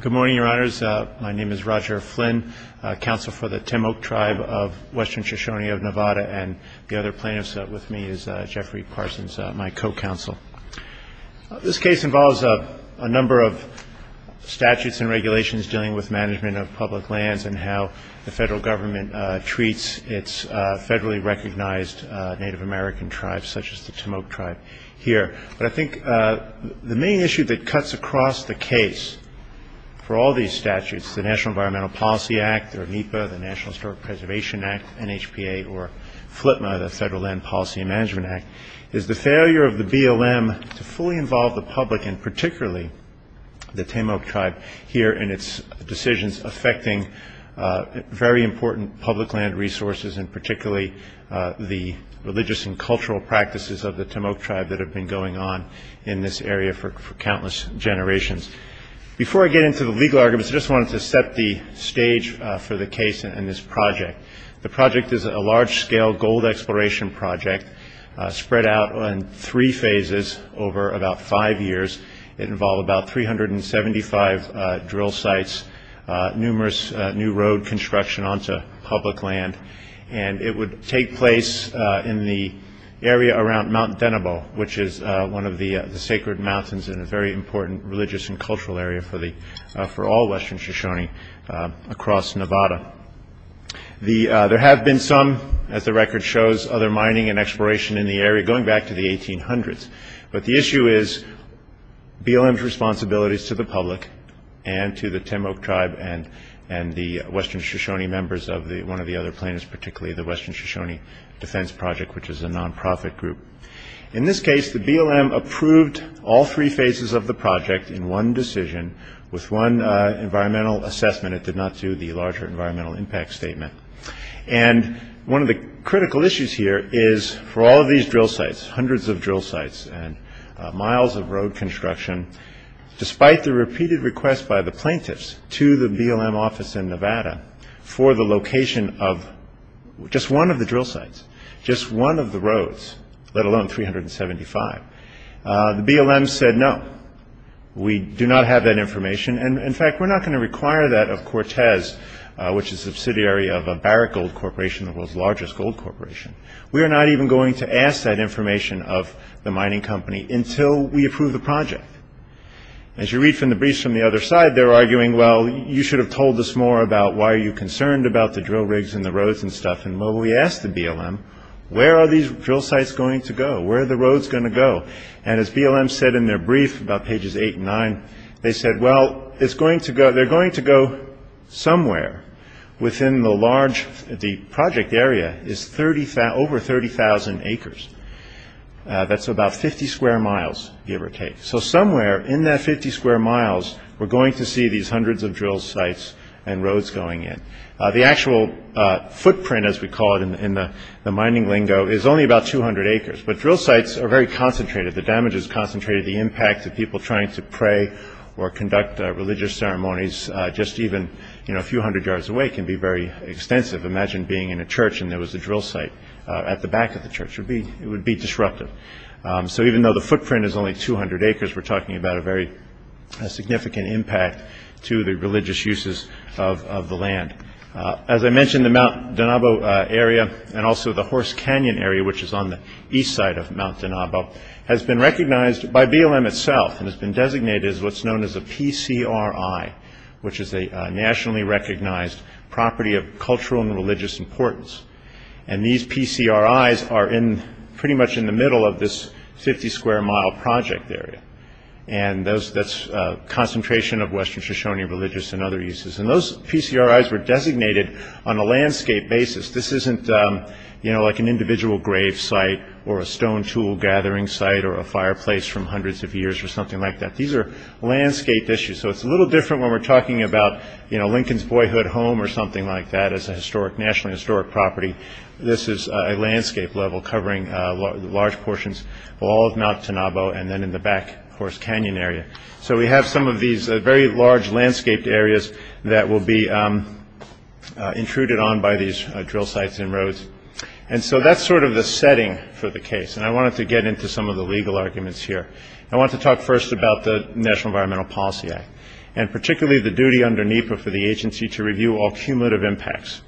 Good morning, Your Honors. My name is Roger Flynn, Counsel for the Te-Moak Tribe of Western Shoshone of Nevada, and the other plaintiffs with me is Jeffrey Parsons, my co-counsel. This case involves a number of statutes and regulations dealing with management of public lands and how the federal government treats its federally recognized Native American tribes, such as the Te-Moak Tribe here. But I think the main issue that cuts across the case for all these statutes, the National Environmental Policy Act, the NEPA, the National Historic Preservation Act, NHPA, or FLIPMA, the Federal Land Policy and Management Act, is the failure of the BLM to fully involve the public and particularly the Te-Moak Tribe here in its decisions affecting very important public land resources and particularly the religious and cultural practices of the Te-Moak Tribe that have been going on in this area for countless generations. Before I get into the legal arguments, I just wanted to set the stage for the case and this project. The project is a large-scale gold exploration project spread out in three phases over about five years. It involved about 375 drill sites, numerous new road construction onto public land, and it would take place in the area around Mount Denebo, which is one of the sacred mountains and a very important religious and cultural area for all Western Shoshone across Nevada. There have been some, as the record shows, other mining and exploration in the area going back to the 1800s, but the issue is BLM's responsibilities to the public and to the Te-Moak Tribe and the Western Shoshone members of one of the other plaintiffs, particularly the Western Shoshone Defense Project, which is a non-profit group. In this case, the BLM approved all three phases of the project in one decision with one environmental assessment. It did not do the larger environmental impact statement. One of the critical issues here is for all of these drill sites, hundreds of drill sites and miles of road construction, despite the repeated request by the plaintiffs to the BLM office in Nevada for the location of just one of the drill sites, just one of the roads, let alone 375, the BLM said, no, we do not have that information, and in fact, we're not going to require that of Cortez, which is a subsidiary of Barrett Gold Corporation, the world's largest gold corporation. We are not even going to ask that information of the mining company until we approve the project. As you read from the briefs from the other side, they're arguing, well, you should have told us more about why you're concerned about the drill rigs and the roads and stuff, and well, we asked the BLM, where are these drill sites going to go? Where are the roads going to go? And as BLM said in their brief about pages 8 and 9, they said, well, it's going to go, they're going to go somewhere within the large, the project area is 30,000, over 30,000 acres. That's about 50 square miles, give or take. So somewhere in that 50 square miles, we're going to see these hundreds of drill sites and roads going in. The actual footprint, as we call it in the mining lingo, is only about 200 acres, but drill sites are very concentrated. The damage is concentrated, the impact of people trying to pray or conduct religious ceremonies just even, you know, a few hundred yards away can be very extensive. Imagine being in a church and there was a drill site at the back of the church. It would be disruptive. So even though the footprint is only 200 acres, we're talking about a very significant impact to the religious uses of the land. As I mentioned, the Mount Donabo area and also the Horse Canyon area, which is on the east side of Mount Donobo, has been recognized by BLM itself and has been designated as what's known as a PCRI, which is a nationally recognized property of cultural and religious importance. And these PCRIs are pretty much in the middle of this 50 square mile project area. And that's a concentration of Western Shoshone religious and other uses. And those PCRIs were designated on a landscape basis. This isn't, you know, like an individual grave site or a stone tool gathering site or a fireplace from hundreds of years or something like that. These are landscaped issues. So it's a little different when we're talking about, you know, Lincoln's boyhood home or something like that as a historic, nationally historic property. This is a landscape level covering large portions of all of Mount Donobo and then in the back Horse Canyon area. So we have some of these very large landscaped areas that will be intruded on by these drill sites and roads. And so that's sort of the setting for the case. And I wanted to get into some of the legal arguments here. I want to talk first about the National Environmental Policy Act and particularly the duty under NEPA for the agency to review all cumulative impacts.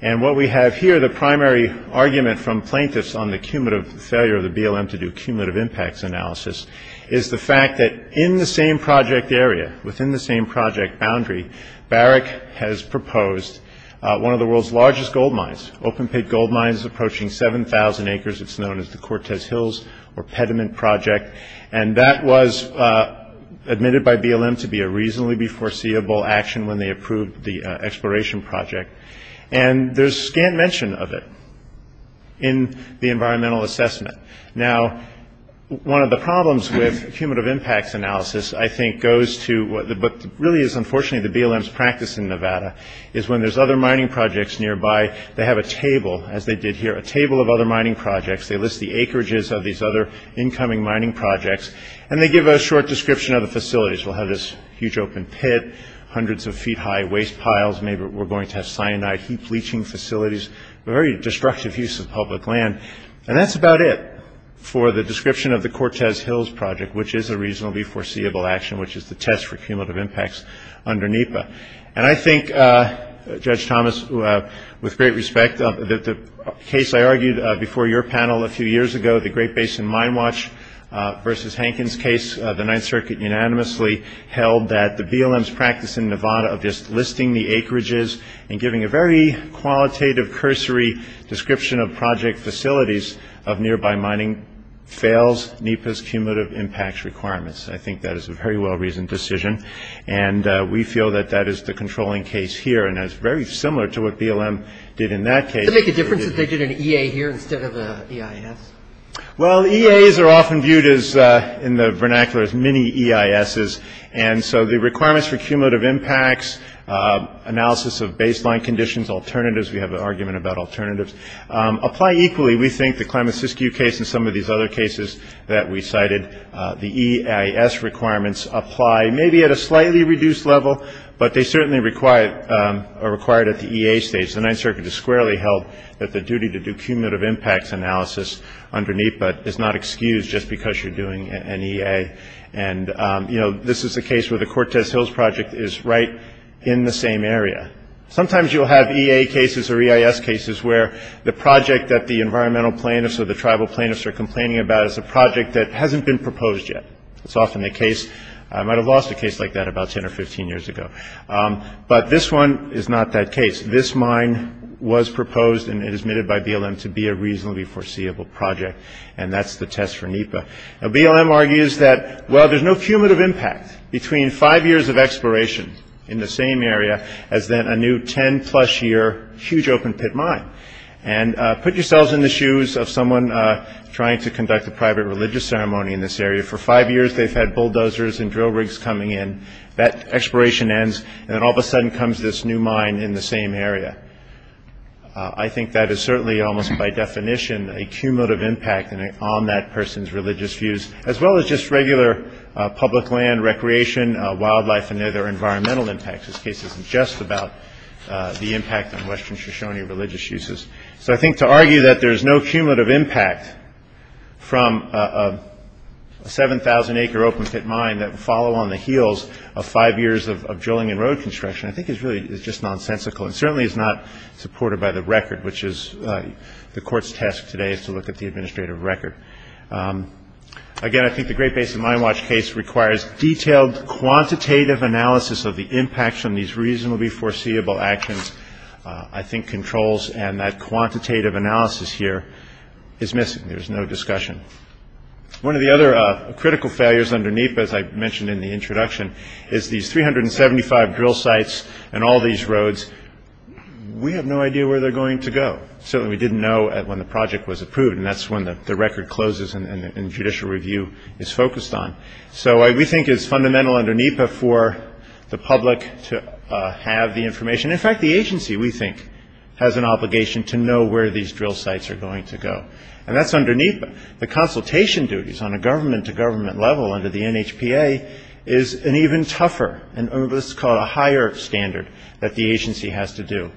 And what we have here, the primary argument from plaintiffs on the cumulative failure of the BLM to do cumulative impacts analysis is the fact that in the same project area, within the same project boundary, Barrick has proposed one of the world's largest gold mines, open pit gold mines approaching 7,000 acres. It's known as the Cortez Hills or Pediment Project. And that was admitted by BLM to be a reasonably foreseeable action when they approved the exploration project. And there's scant mention of it in the environmental assessment. Now one of the problems with cumulative impacts analysis, I think, goes to what really is unfortunately the BLM's practice in Nevada, is when there's other mining projects nearby, they have a table, as they did here, a table of other mining projects. They list the acreages of these other incoming mining projects and they give a short description of the facilities. They'll have this huge open pit, hundreds of feet high waste piles, maybe we're going to have cyanide heap leaching facilities, very destructive use of public land. And that's about it for the description of the Cortez Hills Project, which is a reasonably foreseeable action, which is the test for cumulative impacts under NEPA. And I think, Judge Thomas, with great respect, that the case I argued before your panel a Great Basin Mine Watch versus Hankins case, the Ninth Circuit unanimously held that the BLM's practice in Nevada of just listing the acreages and giving a very qualitative cursory description of project facilities of nearby mining fails NEPA's cumulative impacts requirements. I think that is a very well-reasoned decision. And we feel that that is the controlling case here and is very similar to what BLM did in that case. Does it make a difference that they did an EA here instead of the EIS? Well, EAs are often viewed as, in the vernacular, as mini EISs. And so the requirements for cumulative impacts, analysis of baseline conditions, alternatives, we have an argument about alternatives, apply equally, we think, the Klamath-Siskiyou case and some of these other cases that we cited. The EIS requirements apply maybe at a slightly reduced level, but they certainly are required at the EA stage. The Ninth Circuit has squarely held that the duty to do cumulative impacts analysis under NEPA is not excused just because you're doing an EA. And this is a case where the Cortez Hills project is right in the same area. Sometimes you'll have EA cases or EIS cases where the project that the environmental plaintiffs or the tribal plaintiffs are complaining about is a project that hasn't been proposed yet. It's often the case. I might have lost a case like that about 10 or 15 years ago. But this one is not that case. This mine was proposed and it is admitted by BLM to be a reasonably foreseeable project, and that's the test for NEPA. Now, BLM argues that, well, there's no cumulative impact between five years of exploration in the same area as then a new 10-plus year huge open pit mine. And put yourselves in the shoes of someone trying to conduct a private religious ceremony in this area. For five years, they've had bulldozers and drill rigs coming in. That exploration ends, and then all of a sudden comes this new mine in the same area. I think that is certainly almost by definition a cumulative impact on that person's religious views, as well as just regular public land, recreation, wildlife, and other environmental impacts. This case isn't just about the impact on Western Shoshone religious uses. So I think to argue that there's no cumulative impact from a 7,000 acre open pit mine that would follow on the heels of five years of drilling and road construction, I think is really just nonsensical and certainly is not supported by the record, which is the court's task today is to look at the administrative record. Again, I think the Great Basin Mine Watch case requires detailed quantitative analysis of the impacts on these reasonably foreseeable actions. I think controls and that quantitative analysis here is missing. There's no discussion. One of the other critical failures under NEPA, as I mentioned in the introduction, is these 375 drill sites and all these roads. We have no idea where they're going to go. Certainly we didn't know when the project was approved, and that's when the record closes and judicial review is focused on. So we think it's fundamental under NEPA for the public to have the information. In fact, the agency, we think, has an obligation to know where these drill sites are going to go. And that's underneath the consultation duties on a government-to-government level under the NHPA is an even tougher and what's called a higher standard that the agency has to do.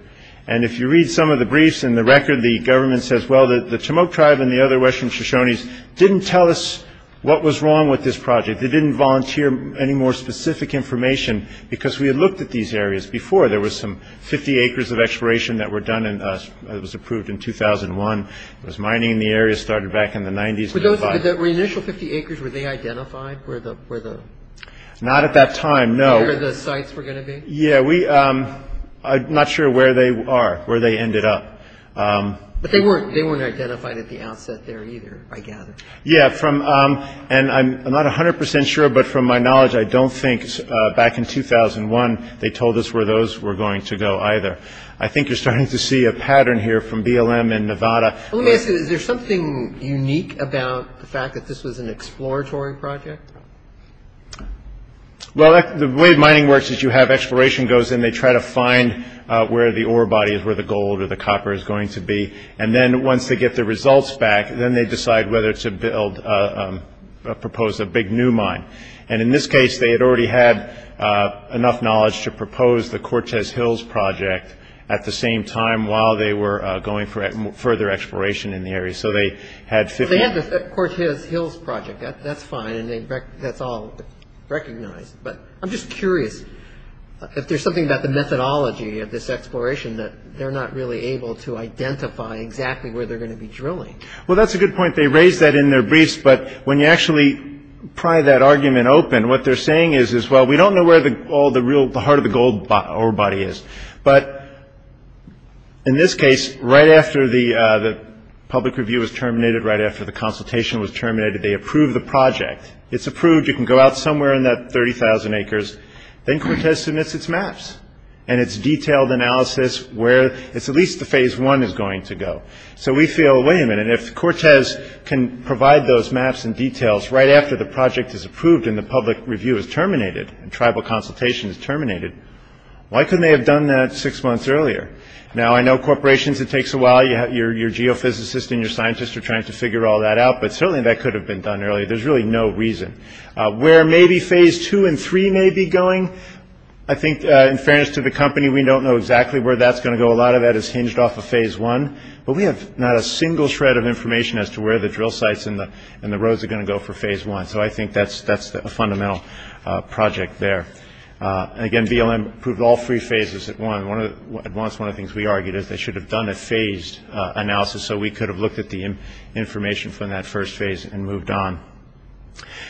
And if you read some of the briefs and the record, the government says, well, the Timok tribe and the other Western Shoshones didn't tell us what was wrong with this project. They didn't volunteer any more specific information because we had looked at these areas before. There was some 50 acres of exploration that was approved in 2001. There was mining in the area. It started back in the 90s. Were the initial 50 acres, were they identified? Not at that time, no. Where the sites were going to be? Yeah. I'm not sure where they are, where they ended up. But they weren't identified at the outset there either, I gather. Yeah. And I'm not 100 percent sure, but from my knowledge, I don't think back in 2001 they told us where those were going to go either. I think you're starting to see a pattern here from BLM and Nevada. Let me ask you, is there something unique about the fact that this was an exploratory project? Well, the way mining works is you have exploration goes in. They try to find where the ore body is, where the gold or the copper is going to be. And then once they get the results back, then they decide whether to build, propose a big new mine. And in this case, they had already had enough knowledge to propose the Cortez Hills project at the same time while they were going for further exploration in the area. So they had 50 acres. They had the Cortez Hills project. That's fine. That's all recognized. But I'm just curious if there's something about the methodology of this exploration that they're not really able to identify exactly where they're going to be drilling. Well, that's a good point. They raised that in their briefs. But when you actually pry that argument open, what they're saying is, well, we don't know where all the real, the heart of the gold ore body is. But in this case, right after the public review was terminated, right after the consultation was terminated, they approved the project. It's approved. You can go out somewhere in that 30,000 acres. Then Cortez submits its maps and its detailed analysis where it's at least the phase one is going to go. So we feel, wait a minute, if Cortez can provide those maps and details right after the project is approved and the public review is terminated and tribal consultation is terminated, why couldn't they have done that six months earlier? Now, I know corporations, it takes a while. Your geophysicist and your scientist are trying to figure all that out. But certainly that could have been done earlier. There's really no reason. Where maybe phase two and three may be going, I think, in fairness to the company, we don't know exactly where that's going to go. A lot of that is hinged off of phase one. But we have not a single shred of information as to where the drill sites and the roads are going to go for phase one. So I think that's a fundamental project there. And again, BLM approved all three phases at one. At once, one of the things we argued is they should have done a phased analysis so we could have looked at the information from that first phase and moved on.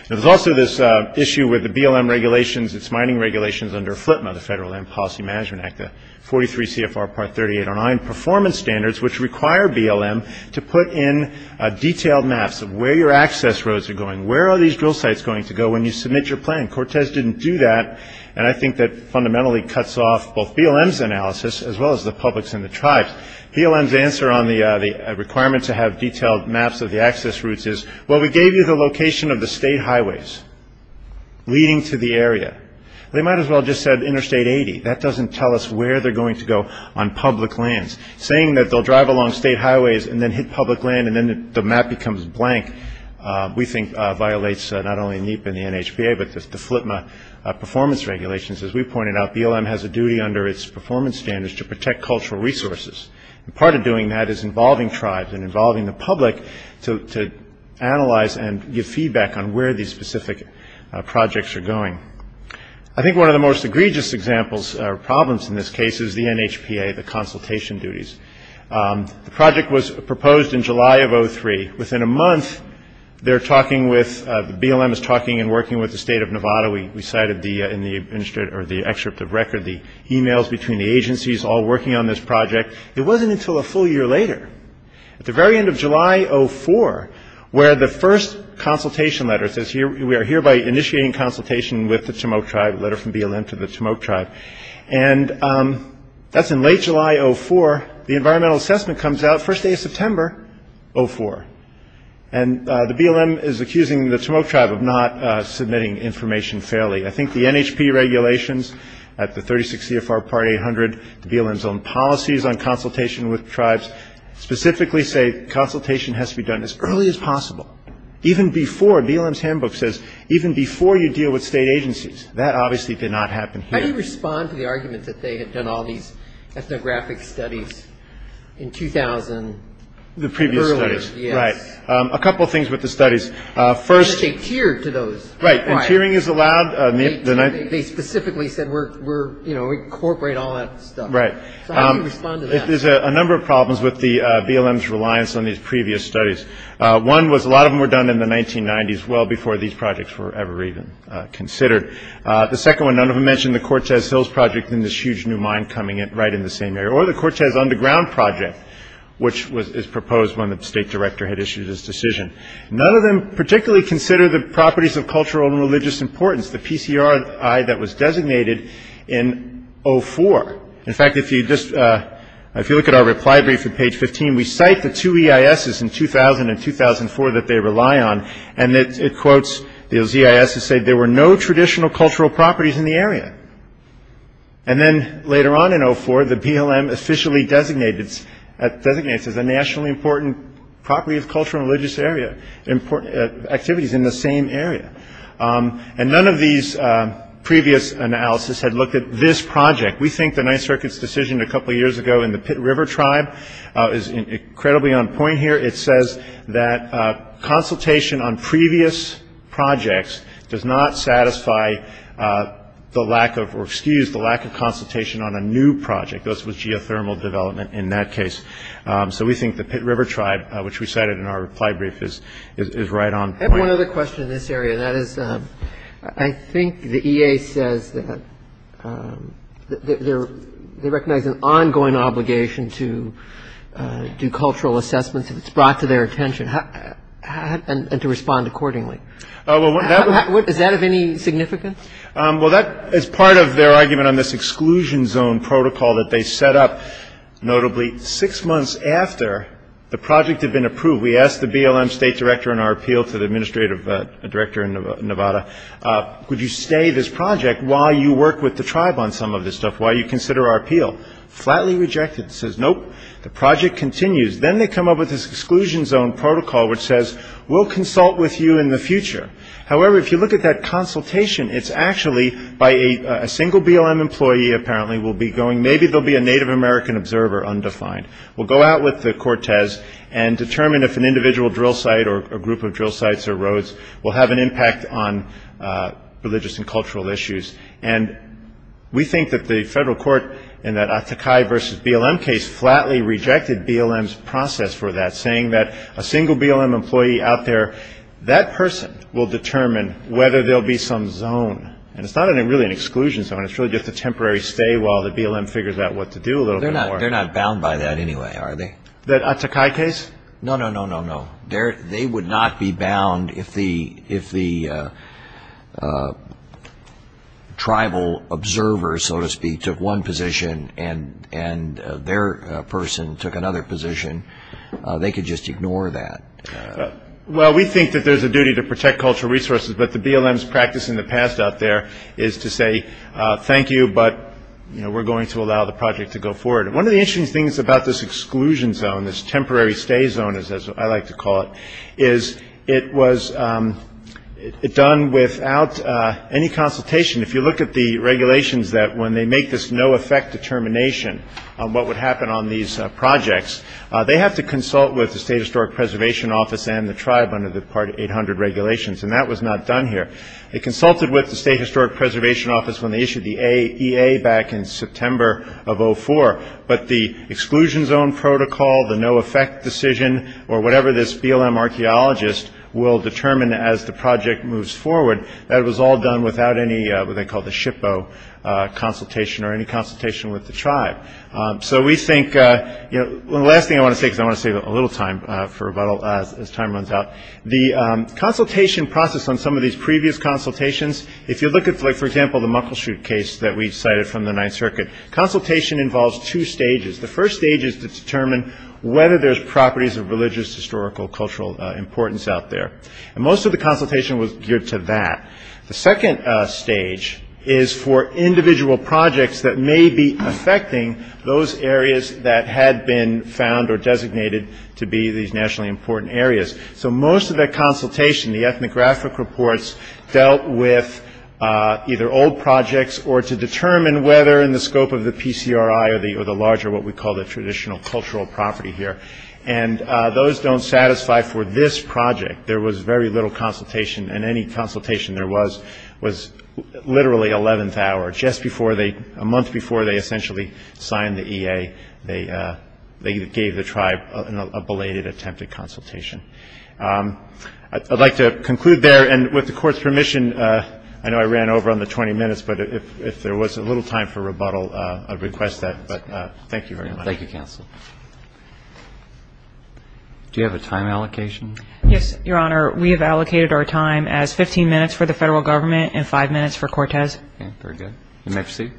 There's also this issue with the BLM regulations, its mining regulations under FLIPMA, the Federal Land Policy Management Act, the 43 CFR part 38 on performance standards, which require BLM to put in a detailed maps of where your access roads are going. Where are these drill sites going to go when you submit your plan? Cortez didn't do that. And I think that fundamentally cuts off both BLM's analysis as well as the public's and the tribe's. BLM's answer on the requirement to have detailed maps of the access routes is, well, we gave you the location of the state highways leading to the area. They might as well have just said interstate 80. That doesn't tell us where they're going to go on public lands. Saying that they'll drive along state highways and then hit public land and then the map becomes blank we think violates not only NEPA and the NHPA, but the FLIPMA performance regulations. As we pointed out, BLM has a duty under its performance standards to protect cultural resources. And part of doing that is involving tribes and involving the public to analyze and give feedback on where these specific projects are going. I think one of the most egregious examples or problems in this case is the NHPA, the consultation duties. The project was proposed in July of 2003. Within a month, they're talking with, BLM is talking and working with the state of Nevada. We cited in the excerpt of the project, it wasn't until a full year later, at the very end of July of 2004, where the first consultation letter says, we are hereby initiating consultation with the Tumok tribe, a letter from BLM to the Tumok tribe. And that's in late July of 2004. The environmental assessment comes out the first day of September of 2004. And the BLM is accusing the Tumok tribe of not submitting information fairly. I think the NHPA regulations at the 36 CFR Part 800, the BLM's own policies on consultation with tribes, specifically say consultation has to be done as early as possible. Even before, BLM's handbook says, even before you deal with state agencies. That obviously did not happen here. How do you respond to the argument that they had done all these ethnographic studies in 2000? The previous studies. Earlier, yes. Right. A couple of things with the studies. First That they tiered to those. Right. Why? Because tiering is allowed. They specifically said, we're, you know, incorporate all that stuff. Right. So how do you respond to that? There's a number of problems with the BLM's reliance on these previous studies. One was a lot of them were done in the 1990s, well before these projects were ever even considered. The second one, none of them mentioned the Cortez Hills project and this huge new mine coming in right in the same area. Or the Cortez Underground project, which was proposed when the state director had issued his decision. None of them particularly consider the properties of cultural and religious importance. The PCRI that was designated in 04. In fact, if you just, if you look at our reply brief at page 15, we cite the two EISs in 2000 and 2004 that they rely on. And it quotes, those EISs say there were no traditional cultural properties in the area. And then later on in 04, the BLM officially designated, designates as a nationally important property of cultural and religious area, important activities in the same area. And none of these previous analysis had looked at this project. We think the Ninth Circuit's decision a couple of years ago in the Pitt River Tribe is incredibly on point here. It says that consultation on previous projects does not satisfy the lack of, or excuse, the lack of consultation on a new project. This was geothermal development in that case. So we think the Pitt River Tribe, which we cited in our reply brief, is right on point. I have one other question in this area. That is, I think the EA says that they recognize an ongoing obligation to do cultural assessments if it's brought to their attention, and to respond accordingly. Is that of any significance? Well, that is part of their argument on this exclusion zone protocol that they set up, notably six months after the project had been approved. We asked the BLM State Director in our appeal to the Administrative Director in Nevada, would you stay this project while you work with the tribe on some of this stuff, while you consider our appeal? Flatly rejected. Says, nope. The project continues. Then they come up with this exclusion zone protocol which says, we'll consult with you in the future. However, if you look at that consultation, it's actually by a single BLM employee, apparently, will be going, maybe there'll be a Native American observer undefined. We'll go out with the Cortez and determine if an individual drill site or a group of drill sites or roads will have an impact on religious and cultural issues. And we think that the federal court, in that Atakai versus BLM case, flatly rejected BLM's process for that, saying that a single BLM employee out there, that person will determine whether there'll be some zone. And it's not really an exclusion zone, it's really just a temporary stay while the BLM figures out what to do a little bit more. They're not bound by that anyway, are they? That Atakai case? No, no, no, no, no. They would not be bound if the tribal observer, so to speak, took one position and their person took another position. They could just ignore that. Well, we think that there's a duty to protect cultural resources, but the BLM's practice in the past out there is to say, thank you, but we're going to allow the project to go forward. One of the interesting things about this exclusion zone, this temporary stay zone, as I like to call it, is it was done without any consultation. If you look at the regulations that when they make this no effect determination on what would happen on these projects, they have to consult with the State Historic Preservation Office and the tribe under the part 800 regulations, and that was not done here. They consulted with the State Historic Preservation Office when they issued the EA back in September of 04, but the exclusion zone protocol, the no effect decision, or whatever this BLM archeologist will determine as the project moves forward, that was all done without any, what they call the SHPO consultation or any consultation with the tribe. So we think, the last thing I want to say, because I want to save a little time for rebuttal as time runs out, the consultation process on some of these previous consultations, if you look at, for example, the Muckleshoot case that we cited from the Ninth Circuit, consultation involves two stages. The first stage is to determine whether there's properties of religious, historical, cultural importance out there. Most of the consultation was geared to that. The second stage is for individual projects that may be affecting those areas that had been found or designated to be these nationally important areas. So most of that consultation, the ethnographic reports, dealt with either old projects or to determine whether in the scope of the PCRI or the larger, what we call the traditional cultural property here, and those don't satisfy for this project. There was very little consultation in any of those cases. There was literally 11th hour, just before they, a month before they essentially signed the EA, they gave the tribe a belated attempted consultation. I'd like to conclude there, and with the Court's permission, I know I ran over on the 20 minutes, but if there was a little time for rebuttal, I'd request that. But thank you very much. Roberts. Thank you, counsel. Do you have a time allocation? Yes, Your Honor. We have allocated our time as 15 minutes for the Federal Government and 5 minutes for Cortez. Okay. Very good. The next seat.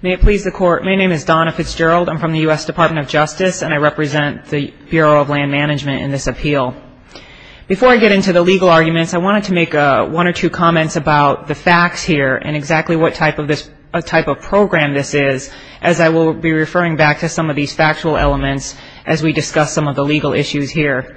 May it please the Court. My name is Donna Fitzgerald. I'm from the U.S. Department of Justice, and I represent the Bureau of Land Management in this appeal. Before I get into the legal arguments, I wanted to make one or two comments about the facts here and exactly what type of program this is, as I will be referring back to some of these factual elements as we discuss some of the legal issues here.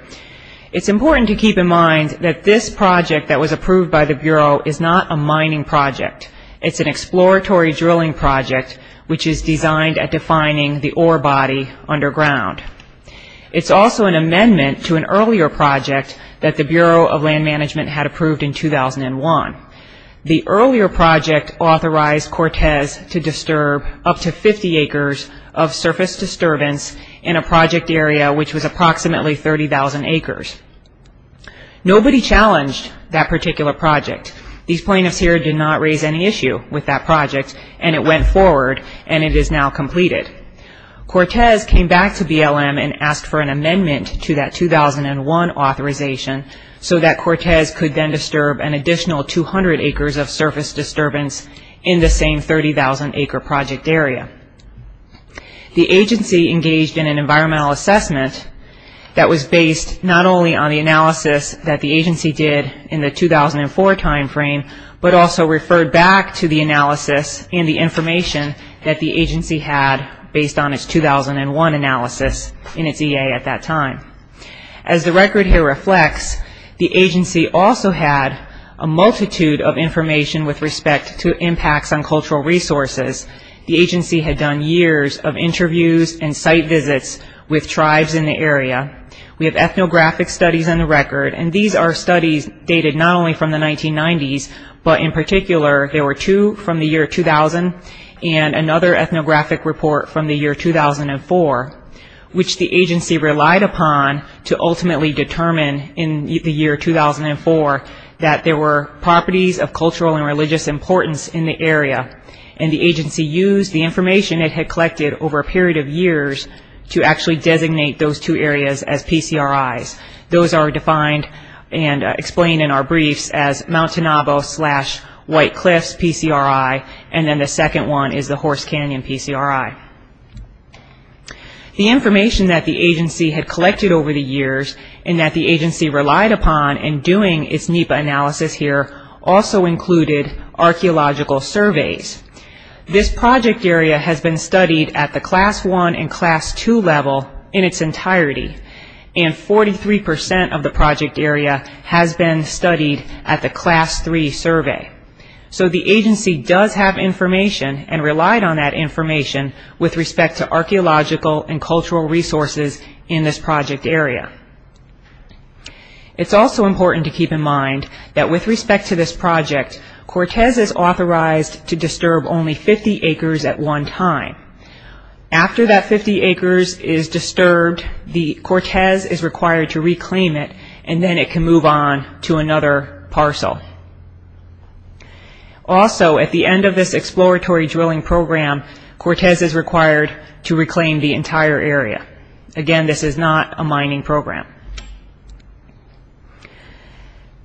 It's important to keep in mind that this project that was approved by the Bureau is not a mining project. It's an exploratory drilling project, which is designed at defining the ore body underground. It's also an amendment to an earlier project that the Bureau of Land Management had approved in 2001. The earlier project authorized Cortez to disturb up to 50 acres of surface disturbance in a project area which was approximately 30,000 acres. Nobody challenged that particular project. These plaintiffs here did not raise any issue with that project, and it went forward, and it is now completed. Cortez came back to BLM and asked for an amendment to that 2001 authorization so that Cortez could then disturb an additional 200 acres of surface disturbance in the same 30,000 acre project area. The agency engaged in an environmental assessment that was based not only on the analysis that the agency did in the 2004 timeframe, but also referred back to the analysis and the information that the agency had based on its 2001 analysis in its time. As the record here reflects, the agency also had a multitude of information with respect to impacts on cultural resources. The agency had done years of interviews and site visits with tribes in the area. We have ethnographic studies on the record, and these are studies dated not only from the 1990s, but in particular there were two from the year 2000 and another ethnographic report from the year 2004, which the agency relied upon to ultimately determine in the year 2004 that there were properties of cultural and religious importance in the area. The agency used the information it had collected over a period of years to actually designate those two areas as PCRIs. Those are defined and explained in our briefs as NEPA and PCRI. The information that the agency had collected over the years and that the agency relied upon in doing its NEPA analysis here also included archeological surveys. This project area has been studied at the Class I and Class II level in its entirety, and 43% of the project area has been studied at the Class III survey. So the agency does have information and relied on that information with respect to archeological and cultural resources in this project area. It's also important to keep in mind that with respect to this project, Cortez is authorized to disturb only 50 acres at one time. After that 50 acres is disturbed, Cortez is required to reclaim it, and then it can move on to another parcel. Also, at the end of this exploratory drilling program, Cortez is required to reclaim the entire area. Again, this is not a mining program.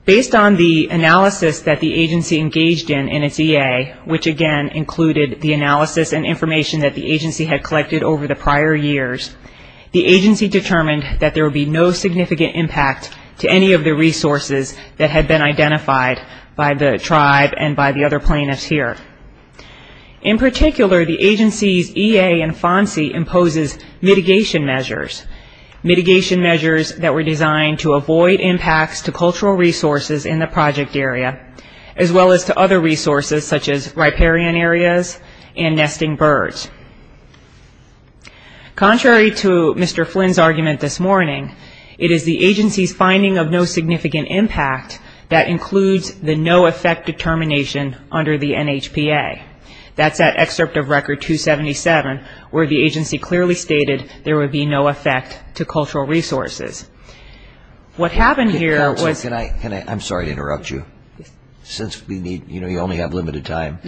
Based on the analysis that the agency engaged in in its EA, which again included the analysis and information that the agency had collected over the prior years, the agency determined that there would be no significant impact to any of the resources that had been identified by the tribe and by the other plaintiffs here. In particular, the agency's EA and FONSI imposes mitigation measures, mitigation measures that were designed to avoid impacts to cultural resources in the project area as well as to other resources such as riparian areas and nesting birds. Contrary to Mr. Flynn's argument this morning, it is the agency's finding of no significant impact that includes the no effect determination under the NHPA. That's that excerpt of Record 277 where the agency clearly stated there would be no effect to cultural resources. What happened here was... I'm sorry to interrupt you. Since we only have limited time,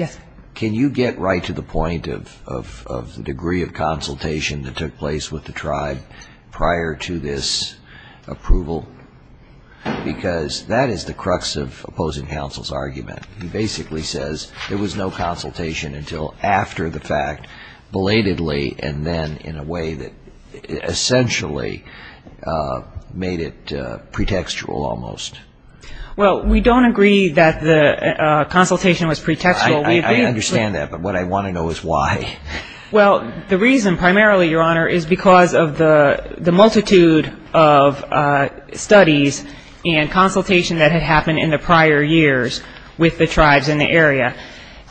can you get right to the of the degree of consultation that took place with the tribe prior to this approval? Because that is the crux of opposing counsel's argument. He basically says there was no consultation until after the fact, belatedly, and then in a way that essentially made it pretextual almost. Well, we don't agree that the consultation was pretextual. I understand that, but what I want to know is why. Well, the reason primarily, Your Honor, is because of the multitude of studies and consultation that had happened in the prior years with the tribes in the area.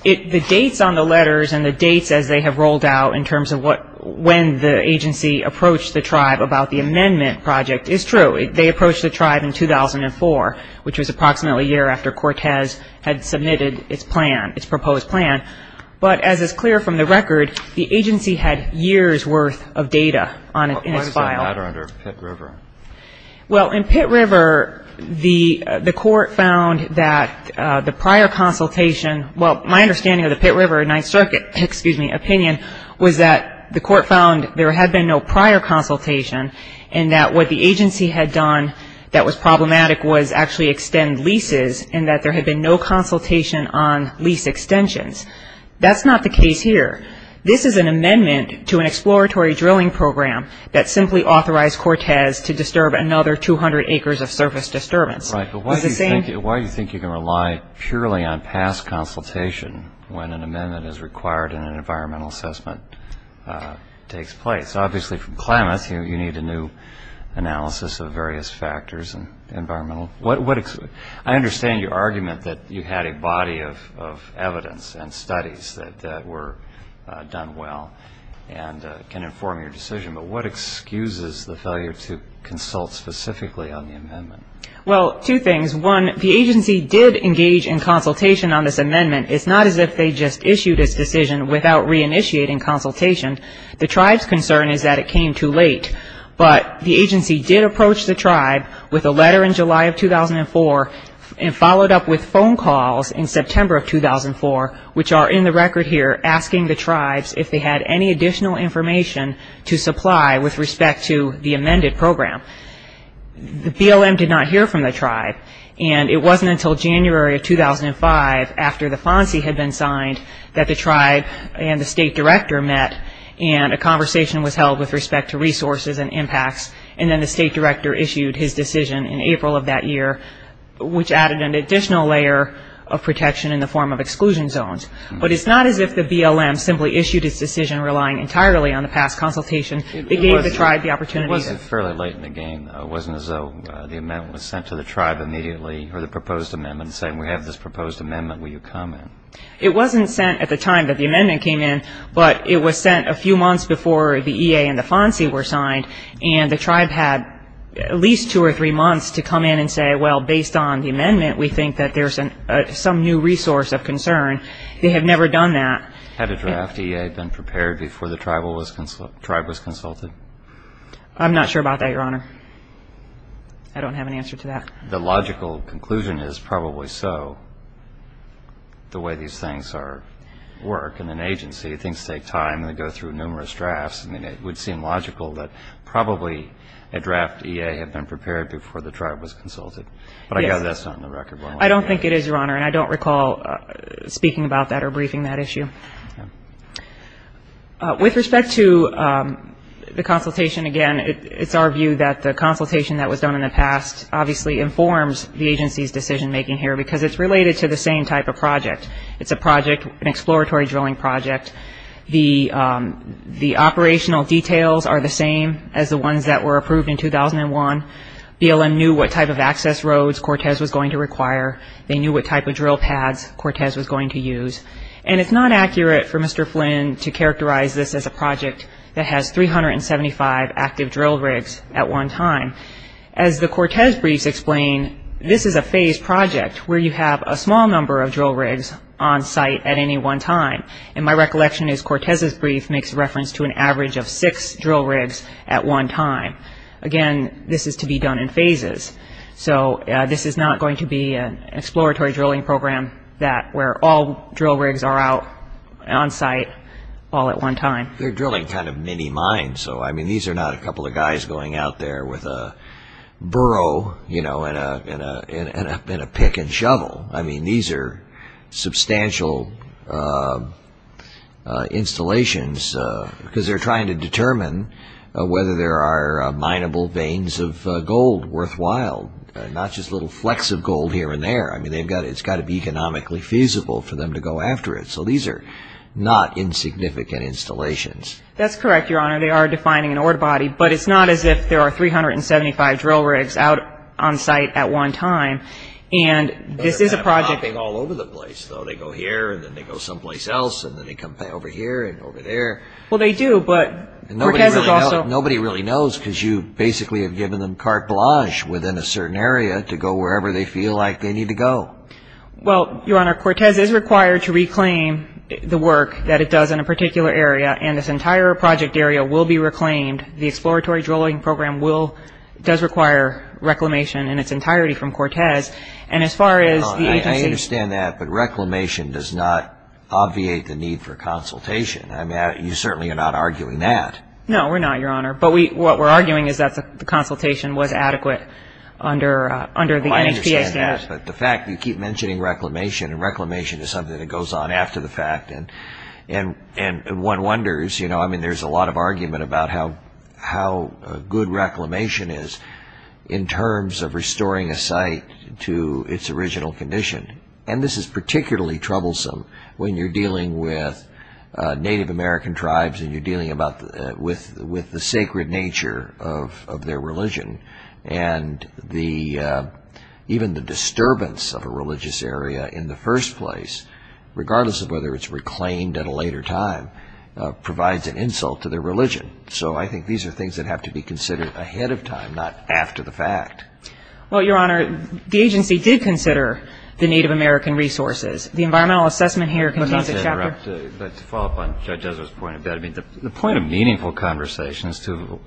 The dates on the letters and the dates as they have rolled out in terms of when the agency approached the tribe about the amendment project is true. They approached the tribe in 2004, which was approximately a year after Cortez had submitted its plan, its proposed plan. But as is clear from the record, the agency had years' worth of data in its file. Why is there a letter under Pitt River? Well, in Pitt River, the court found that the prior consultation... Well, my understanding of the Pitt River Ninth Circuit, excuse me, opinion was that the court found there had been no prior consultation and that what the agency had done that was problematic was actually extend leases and that there had been no consultation on lease extensions. That's not the case here. This is an amendment to an exploratory drilling program that simply authorized Cortez to disturb another 200 acres of surface disturbance. Right, but why do you think you can rely purely on past consultation when an amendment is required and an environmental assessment takes place? Obviously, from climate, you need a analysis of various factors and environmental... I understand your argument that you had a body of evidence and studies that were done well and can inform your decision, but what excuses the failure to consult specifically on the amendment? Well, two things. One, the agency did engage in consultation on this amendment. It's not as if they just issued its decision without re-initiating consultation. The tribe's concern is that it came too late, but the agency did approach the tribe with a letter in July of 2004 and followed up with phone calls in September of 2004, which are in the record here asking the tribes if they had any additional information to supply with respect to the amended program. The BLM did not hear from the tribe and it wasn't until January of 2005 after the FONSI had been signed that the tribe and the state director met and a conversation was held with respect to resources and impacts, and then the state director issued his decision in April of that year, which added an additional layer of protection in the form of exclusion zones. But it's not as if the BLM simply issued its decision relying entirely on the past consultation. They gave the tribe the opportunity to... It wasn't fairly late in the game. It wasn't as though the amendment was sent to the tribe immediately or the proposed amendment saying, we have this proposed amendment, will you comment? It wasn't sent at the time that the amendment came in, but it was sent a few months before the EA and the FONSI were signed, and the tribe had at least two or three months to come in and say, well, based on the amendment, we think that there's some new resource of concern. They have never done that. Had a draft EA been prepared before the tribe was consulted? I'm not sure about that, Your Honor. I don't have an answer to that. The logical conclusion is probably so. The way these things work in an agency, things take time and they go through numerous drafts, and it would seem logical that probably a draft EA had been prepared before the tribe was consulted. But I gather that's not in the record. I don't think it is, Your Honor, and I don't recall speaking about that or briefing that issue. With respect to the consultation, again, it's our view that the consultation that was done in the past obviously informs the agency's decision-making here because it's related to the same type of project. It's a project, an exploratory drilling project. The operational details are the same as the ones that were approved in 2001. BLM knew what type of access roads Cortez was going to require. They knew what type of drill pads Cortez was going to use. And it's not accurate for Mr. Flynn to characterize this as a project that has 375 active drill rigs at one time. As the Cortez briefs explain, this is a phased project where you have a small number of drill rigs on-site at any one time. And my recollection is Cortez's brief makes reference to an average of six drill rigs at one time. Again, this is to be done in phases. So this is not going to be an exploratory drilling program where all drill rigs are out on-site all at one time. They're drilling kind of mini-mines, so I mean, these are not a couple of guys going out there with a burrow and a pick and shovel. I mean, these are substantial installations because they're trying to determine whether there are mineable veins of gold worthwhile, not just little flecks of gold here and there. I mean, it's got to be economically feasible for them to go after it. So these are not insignificant installations. That's correct, Your Honor. They are defining an ore body, but it's not as if there are 375 drill rigs out on-site at one time. And this is a project... They're not popping all over the place, though. They go here and then they go someplace else and then they come back over here and over there. Well, they do, but Cortez is also... Nobody really knows because you basically have given them carte blanche within a certain area to go wherever they feel like they need to go. Well, Your Honor, Cortez is required to reclaim the work that it does in a particular area and this entire project area will be reclaimed. The exploratory drilling program does require reclamation in its entirety from Cortez. And as far as the agency... I understand that, but reclamation does not obviate the need for consultation. I mean, you certainly are not arguing that. No, we're not, Your Honor. But what we're arguing is that the consultation was adequate under the NHPA statute. Well, I understand that, but the fact that you keep mentioning reclamation and reclamation is something that goes on after the fact and one wonders. I mean, there's a lot of argument about how good reclamation is in terms of restoring a site to its original condition. And this is particularly troublesome when you're dealing with Native American tribes and you're dealing with the sacred nature of their religion and even the disturbance of a religious area in the first place, regardless of whether it's reclaimed at a later time, provides an insult to their religion. So I think these are things that have to be considered ahead of time, not after the fact. Well, Your Honor, the agency did consider the Native American resources. The environmental assessment here contains a chapter... But to follow up on Judge Ezra's point, the point of meaningful consultation is to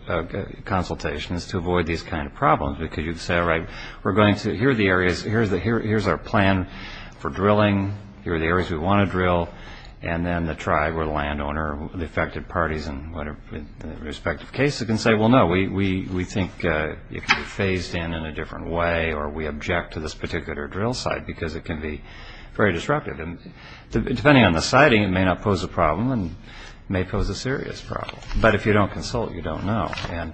avoid these kinds of problems because you'd say, all right, we're going to, here are the areas, here's our plan for drilling, here are the areas we want to drill, and then the tribe or the landowner or the affected parties in the respective cases can say, well, no, we think it can be phased in in a different way or we object to this particular drill site because it can be very disruptive. And depending on the siting, it may not pose a problem and may pose a serious problem. But if you don't consult, you don't know. And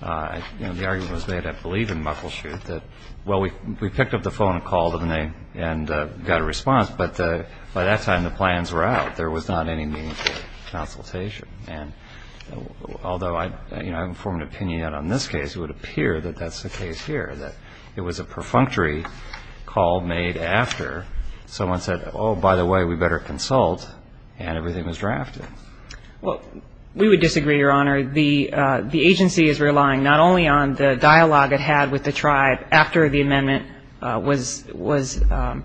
the argument was made at Believe in Muckleshoot that, well, we picked up the phone and called them and got a response, but by that time the plans were out. There was not any meaningful consultation. And although I haven't formed an opinion yet on this case, it would appear that that's the case here, that it was a perfunctory call made after someone said, oh, by the way, we better consult, and everything was drafted. Well, we would disagree, Your Honor. The agency is relying not only on the dialogue it had with the tribe after the amendment was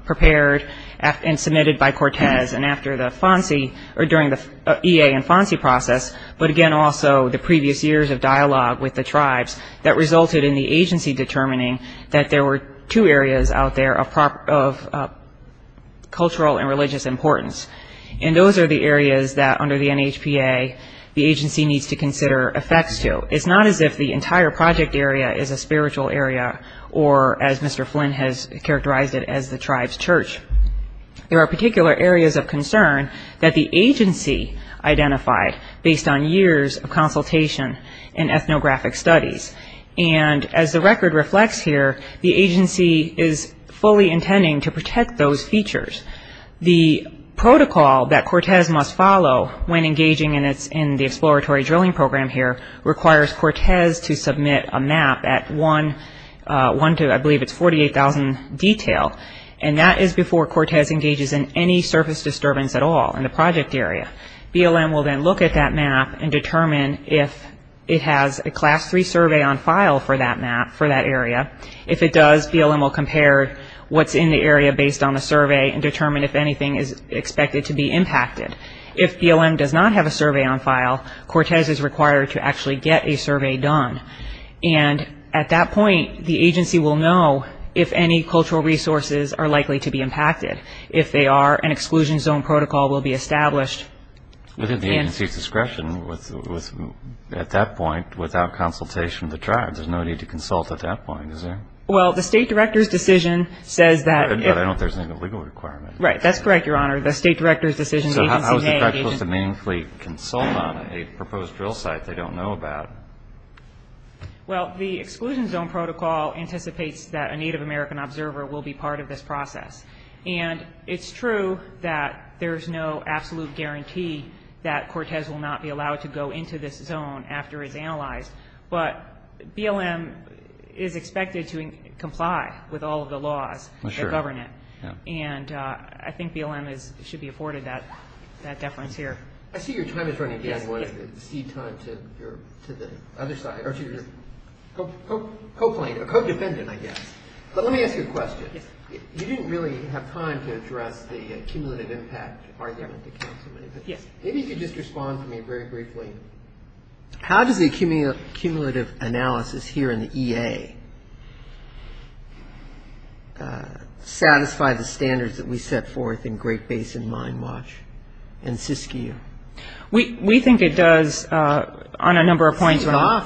prepared and submitted by Cortez and after the FONSI, or during the EA and FONSI process, but again also the previous years of dialogue with the tribes that resulted in the agency determining that there were two areas out there of cultural and religious importance. And those are the areas that, under the NHPA, the agency needs to consider effects to. It's not as if the entire project area is a spiritual area or, as Mr. Flynn has characterized it, as the tribe's church. There are particular areas of concern that the agency identified based on years of consultation in ethnographic studies. And as the record reflects here, the agency is fully intending to protect those features. The protocol that Cortez must follow when engaging in the exploratory drilling program here requires Cortez to submit a map at one to, I believe it's 48,000 detail, and that is before Cortez engages in any surface disturbance at all in the project area. BLM will then look at that map and determine if it has a Class 3 survey on file for that map, for that area. If it does, BLM will compare what's in the area based on the survey and determine if anything is expected to be impacted. If BLM does not have a survey on file, Cortez is required to actually get a survey done. And at that point, the agency will know if any cultural resources are likely to be impacted. If they are, an exclusion zone protocol will be established. But at the agency's discretion, at that point, without consultation of the tribe, there's no need to consult at that point, is there? Well, the state director's decision says that if... But I don't think there's any legal requirement. Right, that's correct, Your Honor. The state director's decision, the agency may... So how is the tribe supposed to meaningfully consult on a proposed drill site they don't know about? Well, the exclusion zone protocol anticipates that a Native American observer will be part of this process. And it's true that there's no absolute guarantee that Cortez will not be allowed to go into this zone after it's analyzed. But BLM is expected to comply with all of the laws that govern it. And I think BLM should be afforded that deference here. I see your time is running down. You want to cede time to the other side, or to your co-defendant, I guess. But let me ask you a question. You didn't really have time to address the cumulative impact argument that counsel made, but maybe you could just respond to me very briefly. How does the cumulative analysis here in the EA satisfy the standards that we set forth in Great Basin Mine Watch and Siskiyou? We think it does on a number of points, Your Honor.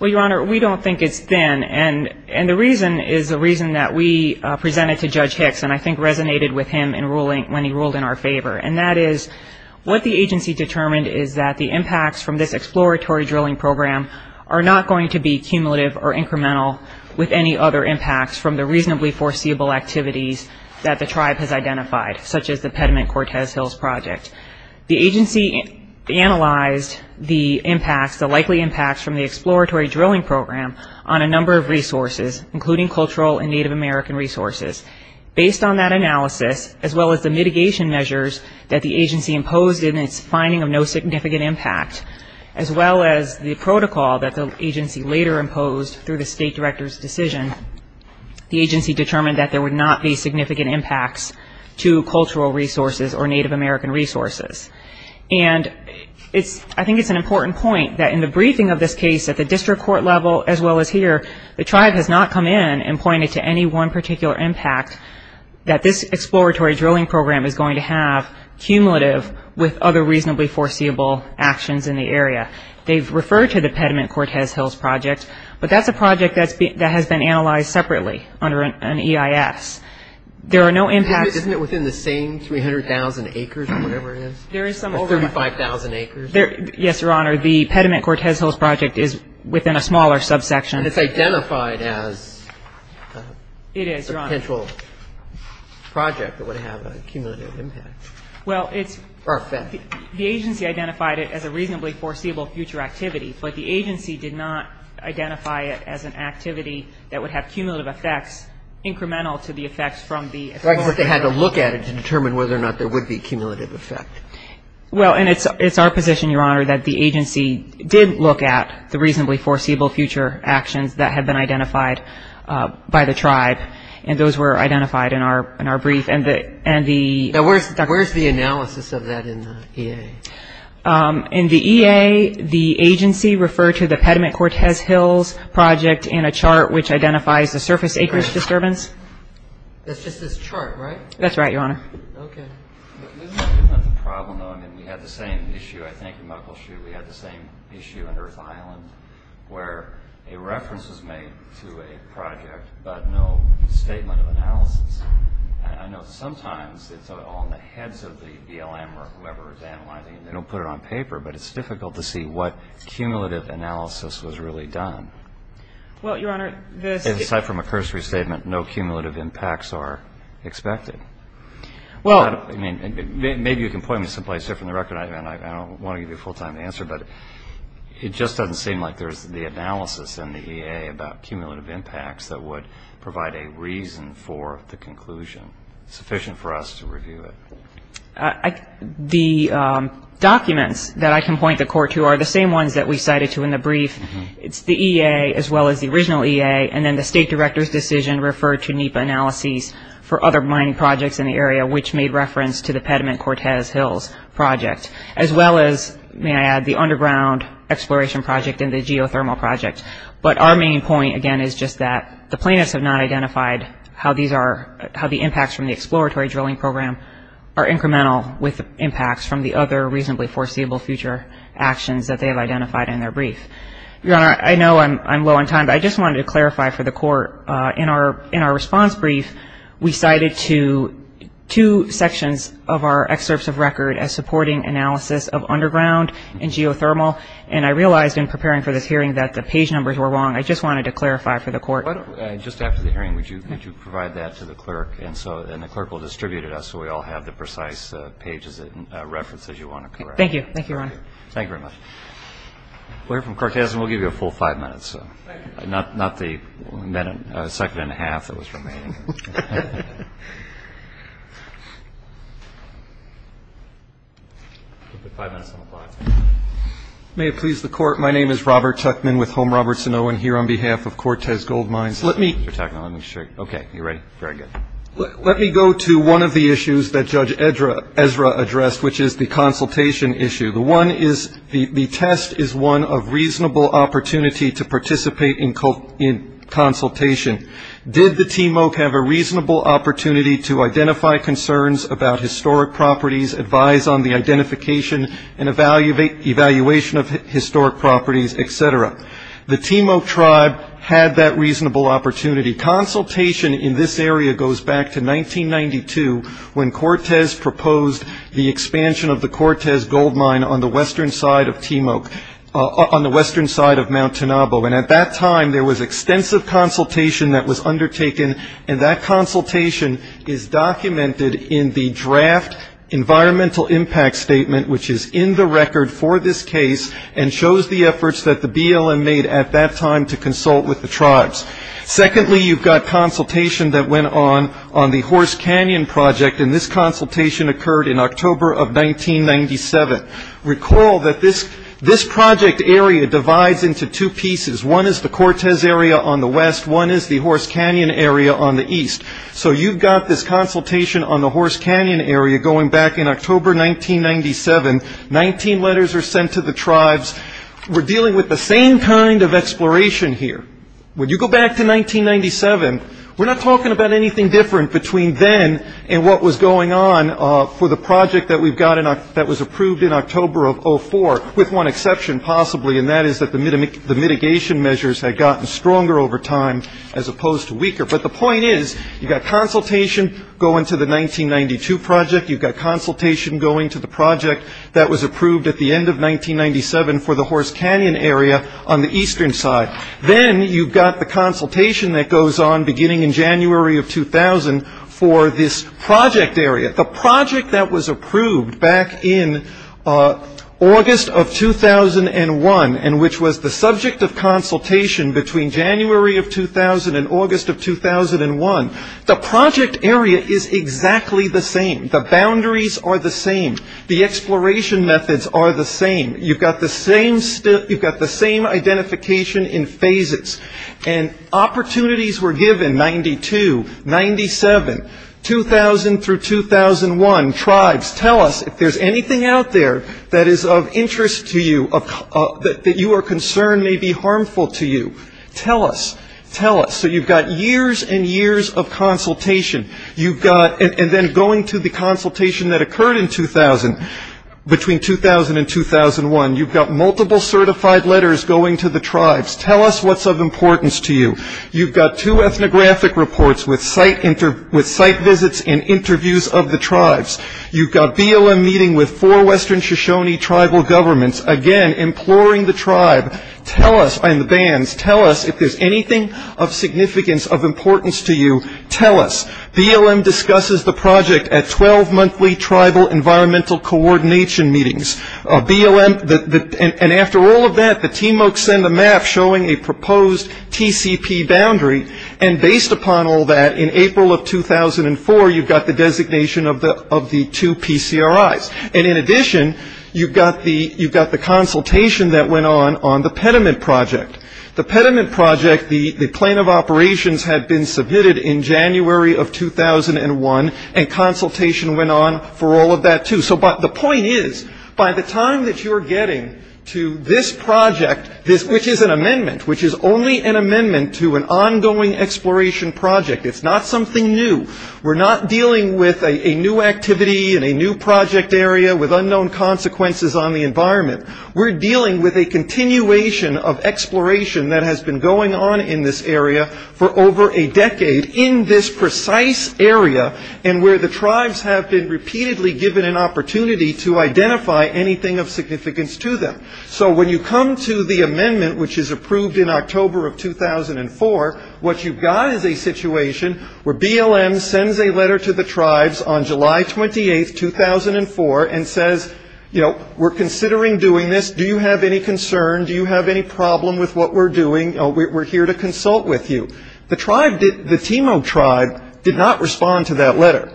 Well, Your Honor, we don't think it's thin. And the reason is the reason that we presented to Judge Hicks, and I think resonated with him when he ruled in our favor. And that is what the agency determined is that the impacts from this exploratory drilling program are not going to be cumulative or incremental with any other impacts from the reasonably foreseeable activities that the tribe has identified, such as the Pediment Cortez Hills project. The agency analyzed the impacts, the likely impacts from the exploratory drilling program on a number of resources, including cultural and Native American resources. Based on that analysis, as well as the mitigation measures that the agency imposed in its finding of no significant impact, as well as the protocol that the agency later imposed through the State Director's decision, the agency determined that there would not be significant impacts to cultural resources or Native American resources. And I think it's an important point that in the briefing of this case at the district court level as well as here, the tribe has not come in and pointed to any one particular impact that this exploratory drilling program is going to have cumulative with other reasonably foreseeable actions in the area. They've referred to the Pediment Cortez Hills project, but that's a project that has been analyzed separately under an EIS. There are no impacts Isn't it within the same 300,000 acres or whatever it is? There is some overlap. 35,000 acres? Yes, Your Honor. The Pediment Cortez Hills project is within a smaller subsection. And it's identified as It is, Your Honor. a potential project that would have a cumulative impact. Well, it's Or effect. The agency identified it as a reasonably foreseeable future activity, but the agency did not identify it as an activity that would have cumulative effects incremental to the effects from the It's like they had to look at it to determine whether or not there would be cumulative effect. Well, and it's our position, Your Honor, that the agency did look at the reasonably foreseeable future actions that had been identified by the tribe. And those were identified in our brief. And the In the EA, the agency referred to the Pediment Cortez Hills project in a chart which identifies the surface acreage disturbance. That's just this chart, right? That's right, Your Honor. Okay. Isn't that the problem, though? I mean, we had the same issue, I think, in Muckleshoot. We had the same issue in Earth Island, where a reference was made to a project, but no statement of analysis. I know sometimes it's all in the heads of the BLM or whoever is analyzing it. They don't put it on paper, but it's difficult to see what cumulative analysis was really done. Well, Your Honor, this And aside from a cursory statement, no cumulative impacts are expected. Well I mean, maybe you can point me someplace different than the record. I don't want to give you a full-time answer, but it just doesn't seem like there's the analysis in the EA about a reason for the conclusion sufficient for us to review it. The documents that I can point the Court to are the same ones that we cited to in the brief. It's the EA as well as the original EA, and then the State Director's decision referred to NEPA analyses for other mining projects in the area, which made reference to the Pediment Cortez Hills project, as well as, may I add, the underground exploration project and the geothermal project. But our main point, again, is just that the plaintiffs have not identified how these are, how the impacts from the exploratory drilling program are incremental with impacts from the other reasonably foreseeable future actions that they have identified in their brief. Your Honor, I know I'm low on time, but I just wanted to clarify for the Court, in our response brief, we cited two sections of our excerpts of record as supporting analysis of underground and geothermal, and I realized in preparing for this hearing that the page numbers were wrong. I just wanted to clarify for the Court. Just after the hearing, would you provide that to the clerk, and the clerk will distribute it to us so we all have the precise pages and references you want to correct. Thank you. Thank you, Your Honor. Thank you very much. We'll hear from Cortez, and we'll give you a full five minutes, not the second and a half that was remaining. We'll put five minutes on the clock. May it please the Court. My name is Robert Tuckman with Home Roberts and Owen here on behalf of Cortez Gold Mines. Let me go to one of the issues that Judge Ezra addressed, which is the consultation issue. The one is the test is one of reasonable opportunity to participate in consultation. Did the Timok have a reasonable opportunity to identify concerns about historic properties, advise on the identification and evaluation of historic properties, et cetera? The Timok tribe had that reasonable opportunity. Consultation in this area goes back to 1992 when Cortez proposed the expansion of the Cortez Gold Mine on the western side of Timok, on the western side of Mount Tanabo, and at that time there was extensive consultation that was undertaken, and that consultation is documented in the draft environmental impact statement, which is in the record for this case and shows the efforts that the BLM made at that time to consult with the tribes. Secondly, you've got consultation that went on on the Horse Canyon Project, and this consultation occurred in October of 1997. Recall that this project area divides into two pieces. One is the Cortez area on the west. One is the Horse Canyon area on the east. So you've got this consultation on the Horse Canyon area going back in October 1997. Nineteen letters are sent to the tribes. We're dealing with the same kind of exploration here. When you go back to 1997, we're not talking about anything different between then and what was going on for the project that was approved in October of 2004, with one exception, possibly, and that is that the mitigation measures had gotten stronger over time as opposed to weaker. But the point is you've got consultation going to the 1992 project. You've got consultation going to the project that was approved at the end of 1997 for the Horse Canyon area on the eastern side. Then you've got the consultation that goes on beginning in January of 2000 for this project area. The project that was approved back in August of 2001 and which was the subject of consultation between January of 2000 and August of 2001, the project area is exactly the same. The boundaries are the same. The exploration methods are the same. You've got the same identification in phases. And opportunities were given, 1992, 1997, 2000 through 2001. Tribes, tell us if there's anything out there that is of interest to you, that you are concerned may be harmful to you. Tell us. Tell us. So you've got years and years of consultation. And then going to the consultation that occurred in 2000, between 2000 and 2001, you've got multiple certified letters going to the tribes. Tell us what's of importance to you. You've got two ethnographic reports with site visits and interviews of the tribes. You've got BLM meeting with four western Shoshone tribal governments. Again, imploring the tribe and the bands, tell us if there's anything of significance, of importance to you. Tell us. BLM discusses the project at 12 monthly tribal environmental coordination meetings. BLM, and after all of that, the TMOC send a map showing a proposed TCP boundary. And based upon all that, in April of 2004, you've got the designation of the two PCRIs. And in addition, you've got the consultation that went on on the pediment project. The pediment project, the plan of operations had been submitted in January of 2001, and consultation went on for all of that, too. So the point is, by the time that you're getting to this project, which is an amendment, which is only an amendment to an ongoing exploration project, it's not something new. We're not dealing with a new activity in a new project area with unknown consequences on the environment. We're dealing with a continuation of exploration that has been going on in this area for over a decade, in this precise area, and where the tribes have been repeatedly given an opportunity to identify anything of significance to them. So when you come to the amendment, which is approved in October of 2004, what you've got is a situation where BLM sends a letter to the tribes on July 28, 2004, and says, you know, we're considering doing this. Do you have any concern? Do you have any problem with what we're doing? We're here to consult with you. The tribe, the Timo tribe, did not respond to that letter.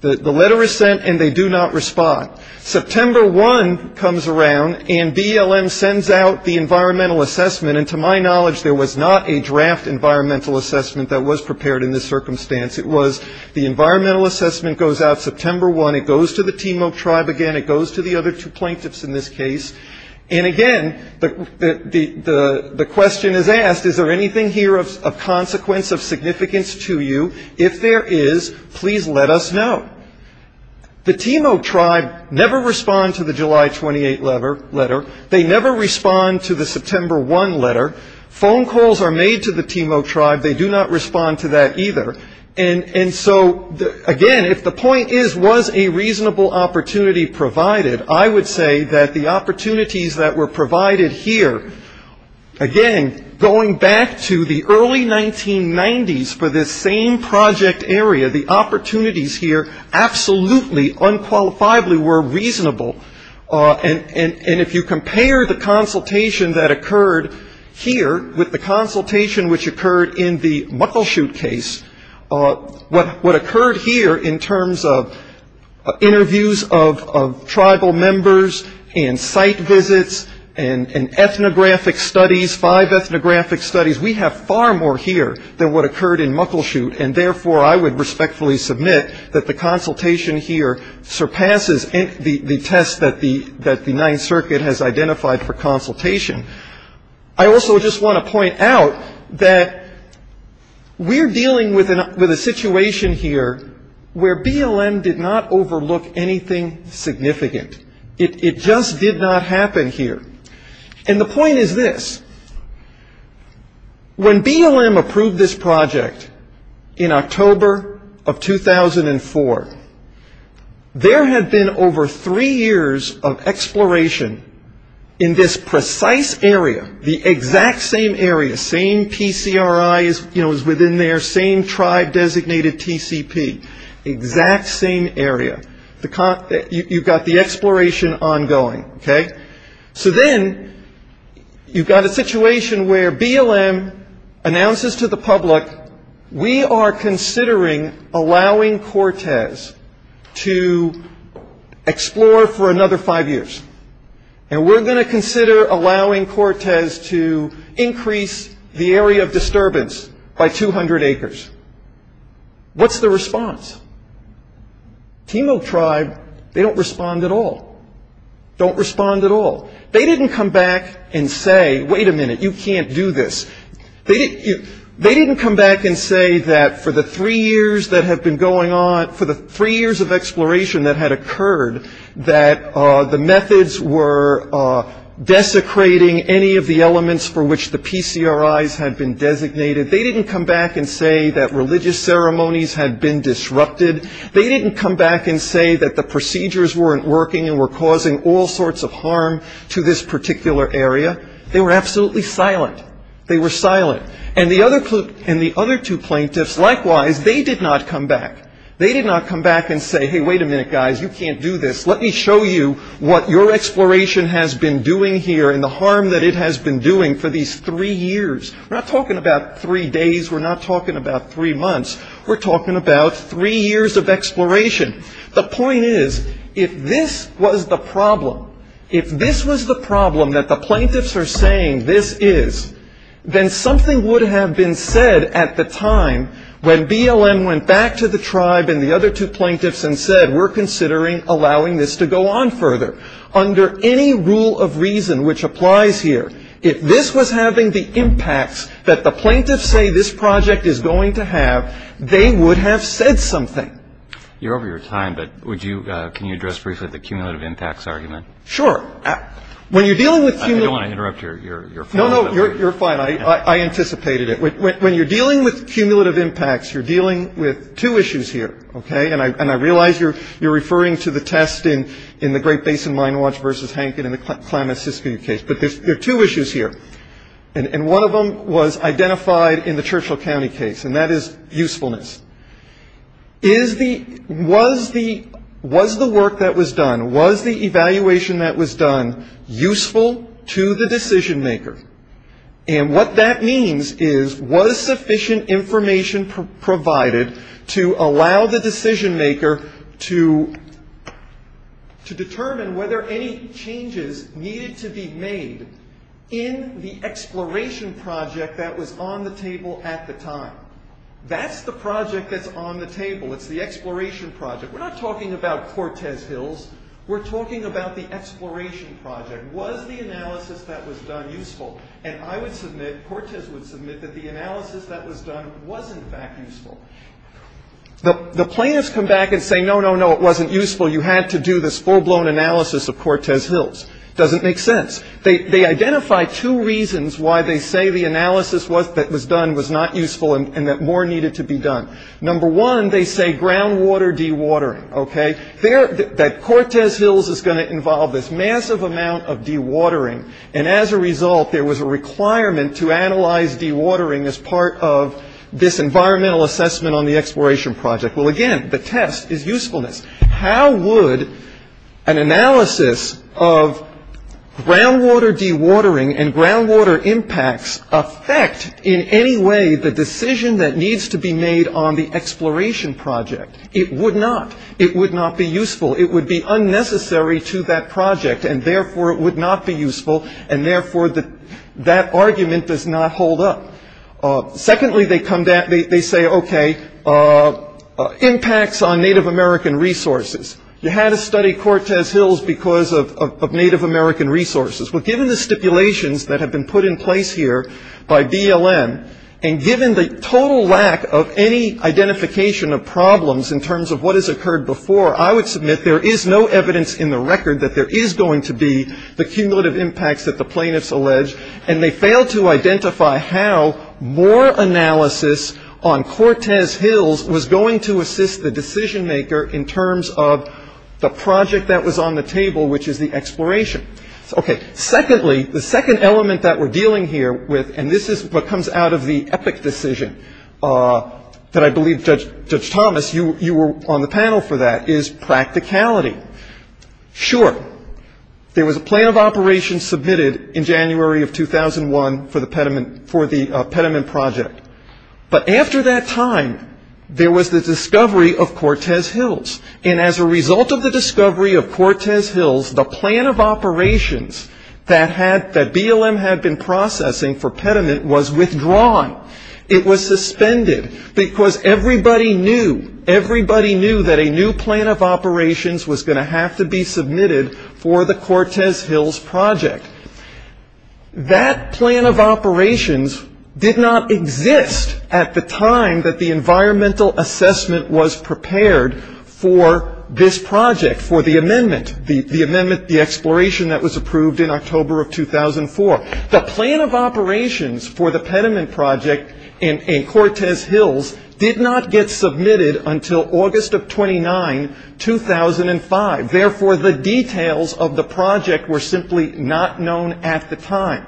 The letter is sent, and they do not respond. September 1 comes around, and BLM sends out the environmental assessment. And to my knowledge, there was not a draft environmental assessment that was prepared in this circumstance. It was the environmental assessment goes out September 1. It goes to the Timo tribe again. It goes to the other two plaintiffs in this case. And, again, the question is asked, is there anything here of consequence, of significance to you? If there is, please let us know. The Timo tribe never respond to the July 28 letter. They never respond to the September 1 letter. Phone calls are made to the Timo tribe. They do not respond to that either. And so, again, if the point is, was a reasonable opportunity provided, I would say that the opportunities that were provided here, again, going back to the early 1990s for this same project area, the opportunities here absolutely, unqualifiably were reasonable. And if you compare the consultation that occurred here with the consultation which occurred in the Muckleshoot case, what occurred here in terms of interviews of tribal members and site visits and ethnographic studies, five ethnographic studies, we have far more here than what occurred in Muckleshoot. And, therefore, I would respectfully submit that the consultation here surpasses the test that the Ninth Circuit has identified for consultation. I also just want to point out that we're dealing with a situation here where BLM did not overlook anything significant. It just did not happen here. And the point is this. When BLM approved this project in October of 2004, there had been over three years of exploration in this precise area, the exact same area, same PCRI as within there, same tribe-designated TCP, exact same area. You've got the exploration ongoing, okay? So then you've got a situation where BLM announces to the public, we are considering allowing Cortez to explore for another five years, and we're going to consider allowing Cortez to increase the area of disturbance by 200 acres. What's the response? Timo tribe, they don't respond at all, don't respond at all. They didn't come back and say, wait a minute, you can't do this. They didn't come back and say that for the three years that had been going on, for the three years of exploration that had occurred, that the methods were desecrating any of the elements for which the PCRIs had been designated. They didn't come back and say that religious ceremonies had been disrupted. They didn't come back and say that the procedures weren't working and were causing all sorts of harm to this particular area. They were absolutely silent. They were silent. And the other two plaintiffs, likewise, they did not come back. They did not come back and say, hey, wait a minute, guys, you can't do this. Let me show you what your exploration has been doing here and the harm that it has been doing for these three years. We're not talking about three days. We're not talking about three months. We're talking about three years of exploration. The point is, if this was the problem, if this was the problem that the plaintiffs are saying this is, then something would have been said at the time when BLM went back to the tribe and the other two plaintiffs and said we're considering allowing this to go on further. Under any rule of reason which applies here, if this was having the impacts that the plaintiffs say this project is going to have, they would have said something. You're over your time, but would you – can you address briefly the cumulative impacts argument? Sure. When you're dealing with – I don't want to interrupt your – No, no, you're fine. I anticipated it. When you're dealing with cumulative impacts, you're dealing with two issues here, okay? And I realize you're referring to the test in the Great Basin Mine Watch versus Hank in the Klamath-Siskiyou case, but there are two issues here. And one of them was identified in the Churchill County case, and that is usefulness. Is the – was the work that was done, was the evaluation that was done useful to the decision maker? And what that means is was sufficient information provided to allow the decision maker to determine whether any changes needed to be made in the exploration project that was on the table at the time? That's the project that's on the table. It's the exploration project. We're not talking about Cortez Hills. We're talking about the exploration project. Was the analysis that was done useful? And I would submit – Cortez would submit that the analysis that was done was, in fact, useful. The plaintiffs come back and say, no, no, no, it wasn't useful. You had to do this full-blown analysis of Cortez Hills. It doesn't make sense. They identify two reasons why they say the analysis that was done was not useful and that more needed to be done. Number one, they say groundwater dewatering, okay? They're – that Cortez Hills is going to involve this massive amount of dewatering. And as a result, there was a requirement to analyze dewatering as part of this environmental assessment on the exploration project. Well, again, the test is usefulness. How would an analysis of groundwater dewatering and groundwater impacts affect in any way the decision that needs to be made on the exploration project? It would not. It would not be useful. It would be unnecessary to that project and, therefore, it would not be useful and, therefore, that argument does not hold up. Secondly, they come back – they say, okay, impacts on Native American resources. You had to study Cortez Hills because of Native American resources. Well, given the stipulations that have been put in place here by BLM and given the total lack of any identification of problems in terms of what has occurred before, I would submit there is no evidence in the record that there is going to be the cumulative impacts that the plaintiffs allege, and they failed to identify how more analysis on Cortez Hills was going to assist the decision maker in terms of the project that was on the table, which is the exploration. Okay, secondly, the second element that we're dealing here with, and this is what comes out of the EPIC decision that I believe, Judge Thomas, you were on the panel for that, is practicality. Sure, there was a plan of operation submitted in January of 2001 for the Petermann Project, but after that time, there was the discovery of Cortez Hills, and as a result of the discovery of Cortez Hills, the plan of operations that BLM had been processing for Petermann was withdrawn. It was suspended because everybody knew that a new plan of operations was going to have to be submitted for the Cortez Hills Project. That plan of operations did not exist at the time that the environmental assessment was prepared for this project, for the amendment, the amendment, the exploration that was approved in October of 2004. The plan of operations for the Petermann Project in Cortez Hills did not get submitted until August of 2009, 2005. Therefore, the details of the project were simply not known at the time.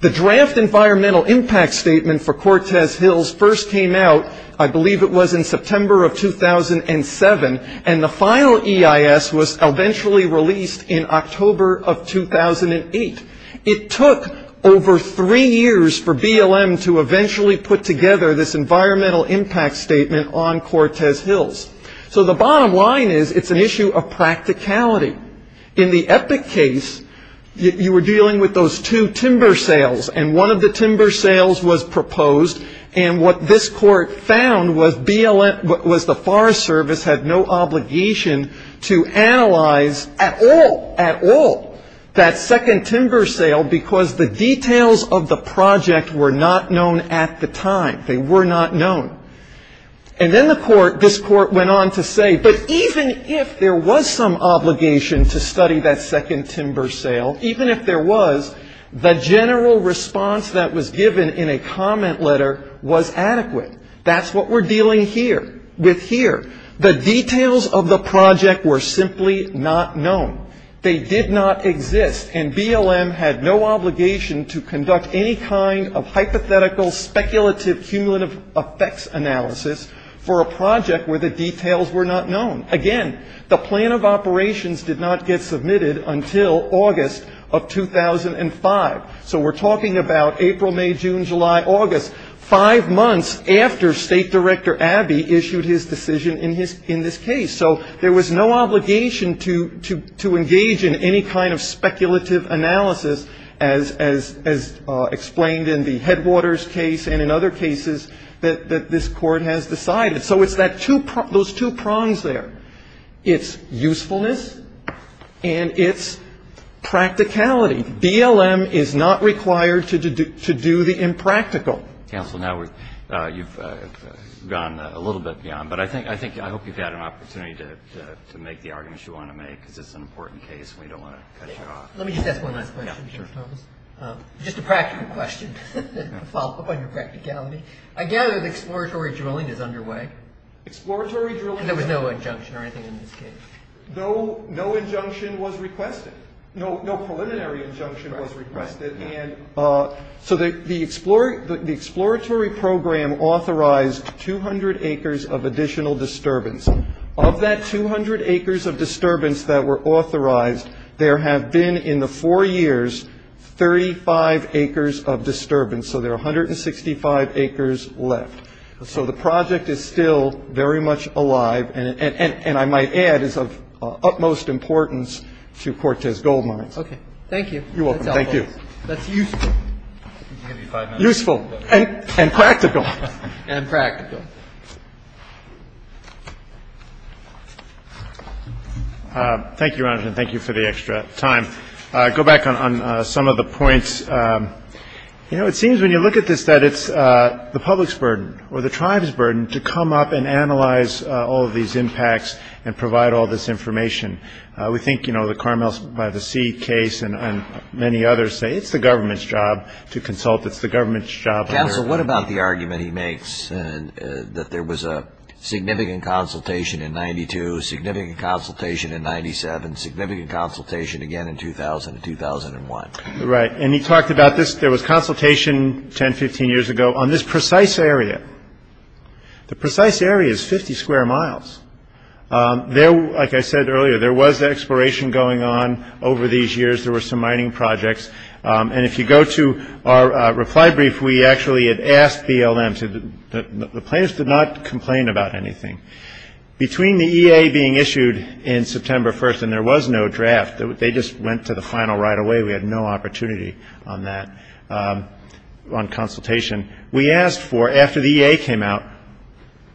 The draft environmental impact statement for Cortez Hills first came out, I believe it was in September of 2007, and the final EIS was eventually released in October of 2008. It took over three years for BLM to eventually put together this environmental impact statement on Cortez Hills. So the bottom line is it's an issue of practicality. In the Epic case, you were dealing with those two timber sales, and one of the timber sales was proposed, and what this court found was the Forest Service had no obligation to analyze at all, at all, that second timber sale because the details of the project were not known at the time. They were not known. And then the court, this court went on to say, but even if there was some obligation to study that second timber sale, even if there was, the general response that was given in a comment letter was adequate. That's what we're dealing here, with here. The details of the project were simply not known. They did not exist, and BLM had no obligation to conduct any kind of hypothetical speculative cumulative effects analysis for a project where the details were not known. Again, the plan of operations did not get submitted until August of 2005. So we're talking about April, May, June, July, August, five months after State Director Abbey issued his decision in this case. So there was no obligation to engage in any kind of speculative analysis as explained in the Headwaters case and in other cases that this court has decided. So it's that two, those two prongs there. It's usefulness and it's practicality. BLM is not required to do the impractical. Counsel, now you've gone a little bit beyond. But I think, I hope you've had an opportunity to make the arguments you want to make, because it's an important case and we don't want to cut you off. Let me just ask one last question, Justice Thomas. Just a practical question to follow up on your practicality. I gather that exploratory drilling is underway. Exploratory drilling is underway. And there was no injunction or anything in this case. No injunction was requested. No preliminary injunction was requested. So the exploratory program authorized 200 acres of additional disturbance. Of that 200 acres of disturbance that were authorized, there have been in the four years 35 acres of disturbance. So there are 165 acres left. So the project is still very much alive and, I might add, is of utmost importance to Cortez Gold Mines. Thank you. You're welcome. Thank you. That's useful. Useful. And practical. And practical. Thank you, Your Honor, and thank you for the extra time. I'll go back on some of the points. You know, it seems when you look at this that it's the public's burden or the tribe's burden to come up and analyze all of these impacts and provide all this information. We think, you know, the Carmel-by-the-Sea case and many others say it's the government's job to consult. It's the government's job. Counsel, what about the argument he makes that there was a significant consultation in 92, significant consultation in 97, significant consultation again in 2000 and 2001? Right. And he talked about this. There was consultation 10, 15 years ago on this precise area. The precise area is 50 square miles. There, like I said earlier, there was exploration going on over these years. There were some mining projects. And if you go to our reply brief, we actually had asked BLM to, the plaintiffs did not complain about anything. Between the EA being issued in September 1st, and there was no draft, they just went to the final right away. We had no opportunity on that, on consultation. We asked for, after the EA came out,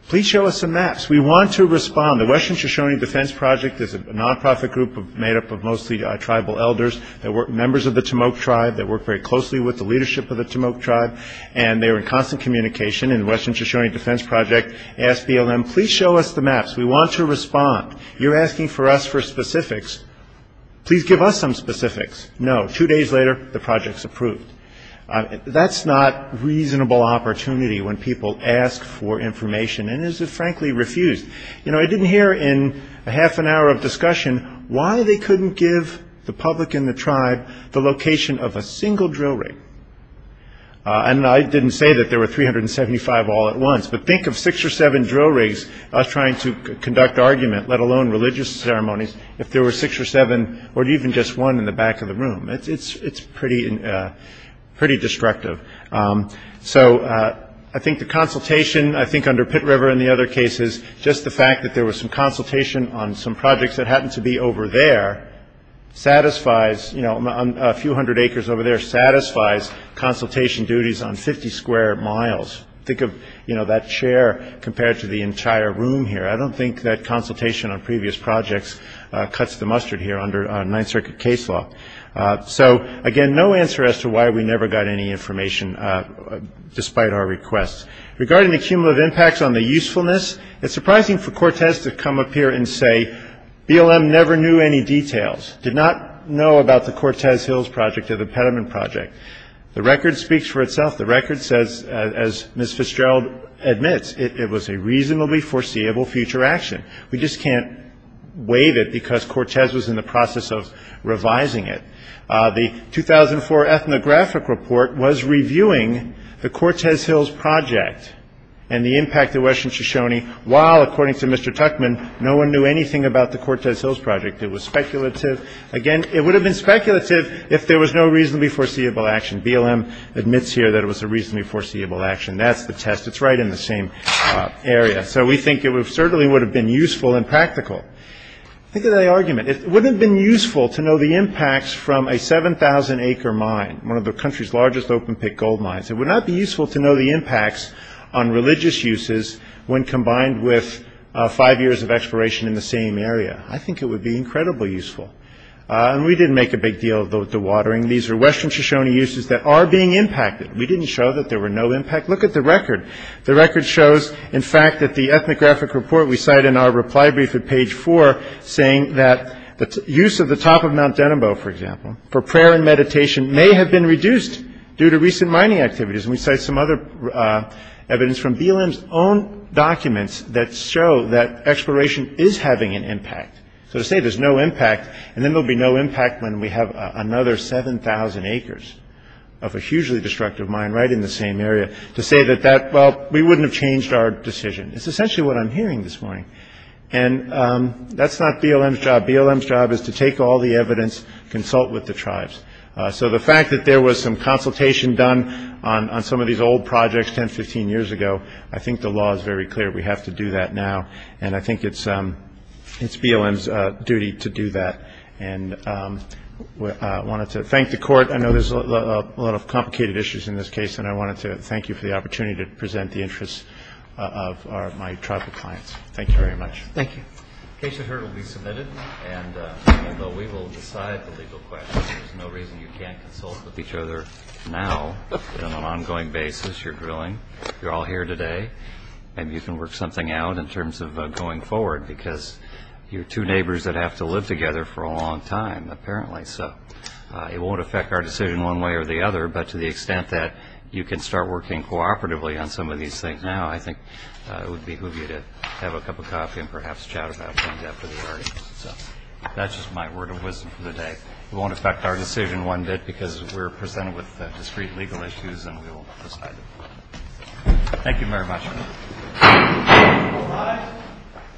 please show us some maps. We want to respond. The Western Shoshone Defense Project is a nonprofit group made up of mostly tribal elders that work, members of the Tamok tribe that work very closely with the leadership of the Tamok tribe, and they are in constant communication. And the Western Shoshone Defense Project asked BLM, please show us the maps. We want to respond. You're asking for us for specifics. Please give us some specifics. No. Two days later, the project's approved. That's not reasonable opportunity when people ask for information. And it is, frankly, refused. You know, I didn't hear in a half an hour of discussion why they couldn't give the public and the tribe the location of a single drill rig. And I didn't say that there were 375 all at once, but think of six or seven drill rigs trying to conduct argument, let alone religious ceremonies, if there were six or seven or even just one in the back of the room. It's pretty destructive. So I think the consultation, I think under Pitt River and the other cases, just the fact that there was some consultation on some projects that happened to be over there satisfies, you know, a few hundred acres over there satisfies consultation duties on 50 square miles. Think of, you know, that chair compared to the entire room here. I don't think that consultation on previous projects cuts the mustard here under Ninth Circuit case law. So, again, no answer as to why we never got any information despite our requests. Regarding the cumulative impacts on the usefulness, it's surprising for Cortez to come up here and say BLM never knew any details, did not know about the Cortez Hills project or the Peterman project. The record speaks for itself. The record says, as Ms. Fitzgerald admits, it was a reasonably foreseeable future action. We just can't waive it because Cortez was in the process of revising it. The 2004 ethnographic report was reviewing the Cortez Hills project and the impact of Western Shoshone while, according to Mr. Tuckman, no one knew anything about the Cortez Hills project. It was speculative. Again, it would have been speculative if there was no reasonably foreseeable action. BLM admits here that it was a reasonably foreseeable action. That's the test. It's right in the same area. So we think it certainly would have been useful and practical. Think of the argument. It wouldn't have been useful to know the impacts from a 7,000-acre mine, one of the country's largest open-pit gold mines. It would not be useful to know the impacts on religious uses when combined with five years of exploration in the same area. I think it would be incredibly useful. And we didn't make a big deal of the watering. These are Western Shoshone uses that are being impacted. We didn't show that there were no impact. Look at the record. The record shows, in fact, that the ethnographic report we cite in our reply brief at page 4 saying that the use of the top of Mount Denimbo, for example, for prayer and meditation may have been reduced due to recent mining activities. And we cite some other evidence from BLM's own documents that show that exploration is having an impact. So to say there's no impact, and then there will be no impact when we have another 7,000 acres of a hugely destructive mine right in the same area, to say that, well, we wouldn't have changed our decision. It's essentially what I'm hearing this morning. And that's not BLM's job. BLM's job is to take all the evidence, consult with the tribes. So the fact that there was some consultation done on some of these old projects 10, 15 years ago, I think the law is very clear. We have to do that now, and I think it's BLM's duty to do that. And I wanted to thank the Court. I know there's a lot of complicated issues in this case, and I wanted to thank you for the opportunity to present the interests of my tribal clients. Thank you very much. Thank you. The case you heard will be submitted, and although we will decide the legal questions, there's no reason you can't consult with each other now on an ongoing basis. You're drilling. You're all here today. Maybe you can work something out in terms of going forward because you're two neighbors that have to live together for a long time, apparently so. It won't affect our decision one way or the other, but to the extent that you can start working cooperatively on some of these things now, I think it would behoove you to have a cup of coffee and perhaps chat about things after the hearing. So that's just my word of wisdom for the day. It won't affect our decision one bit because we're presented with discrete legal issues and we will decide the court. Thank you very much.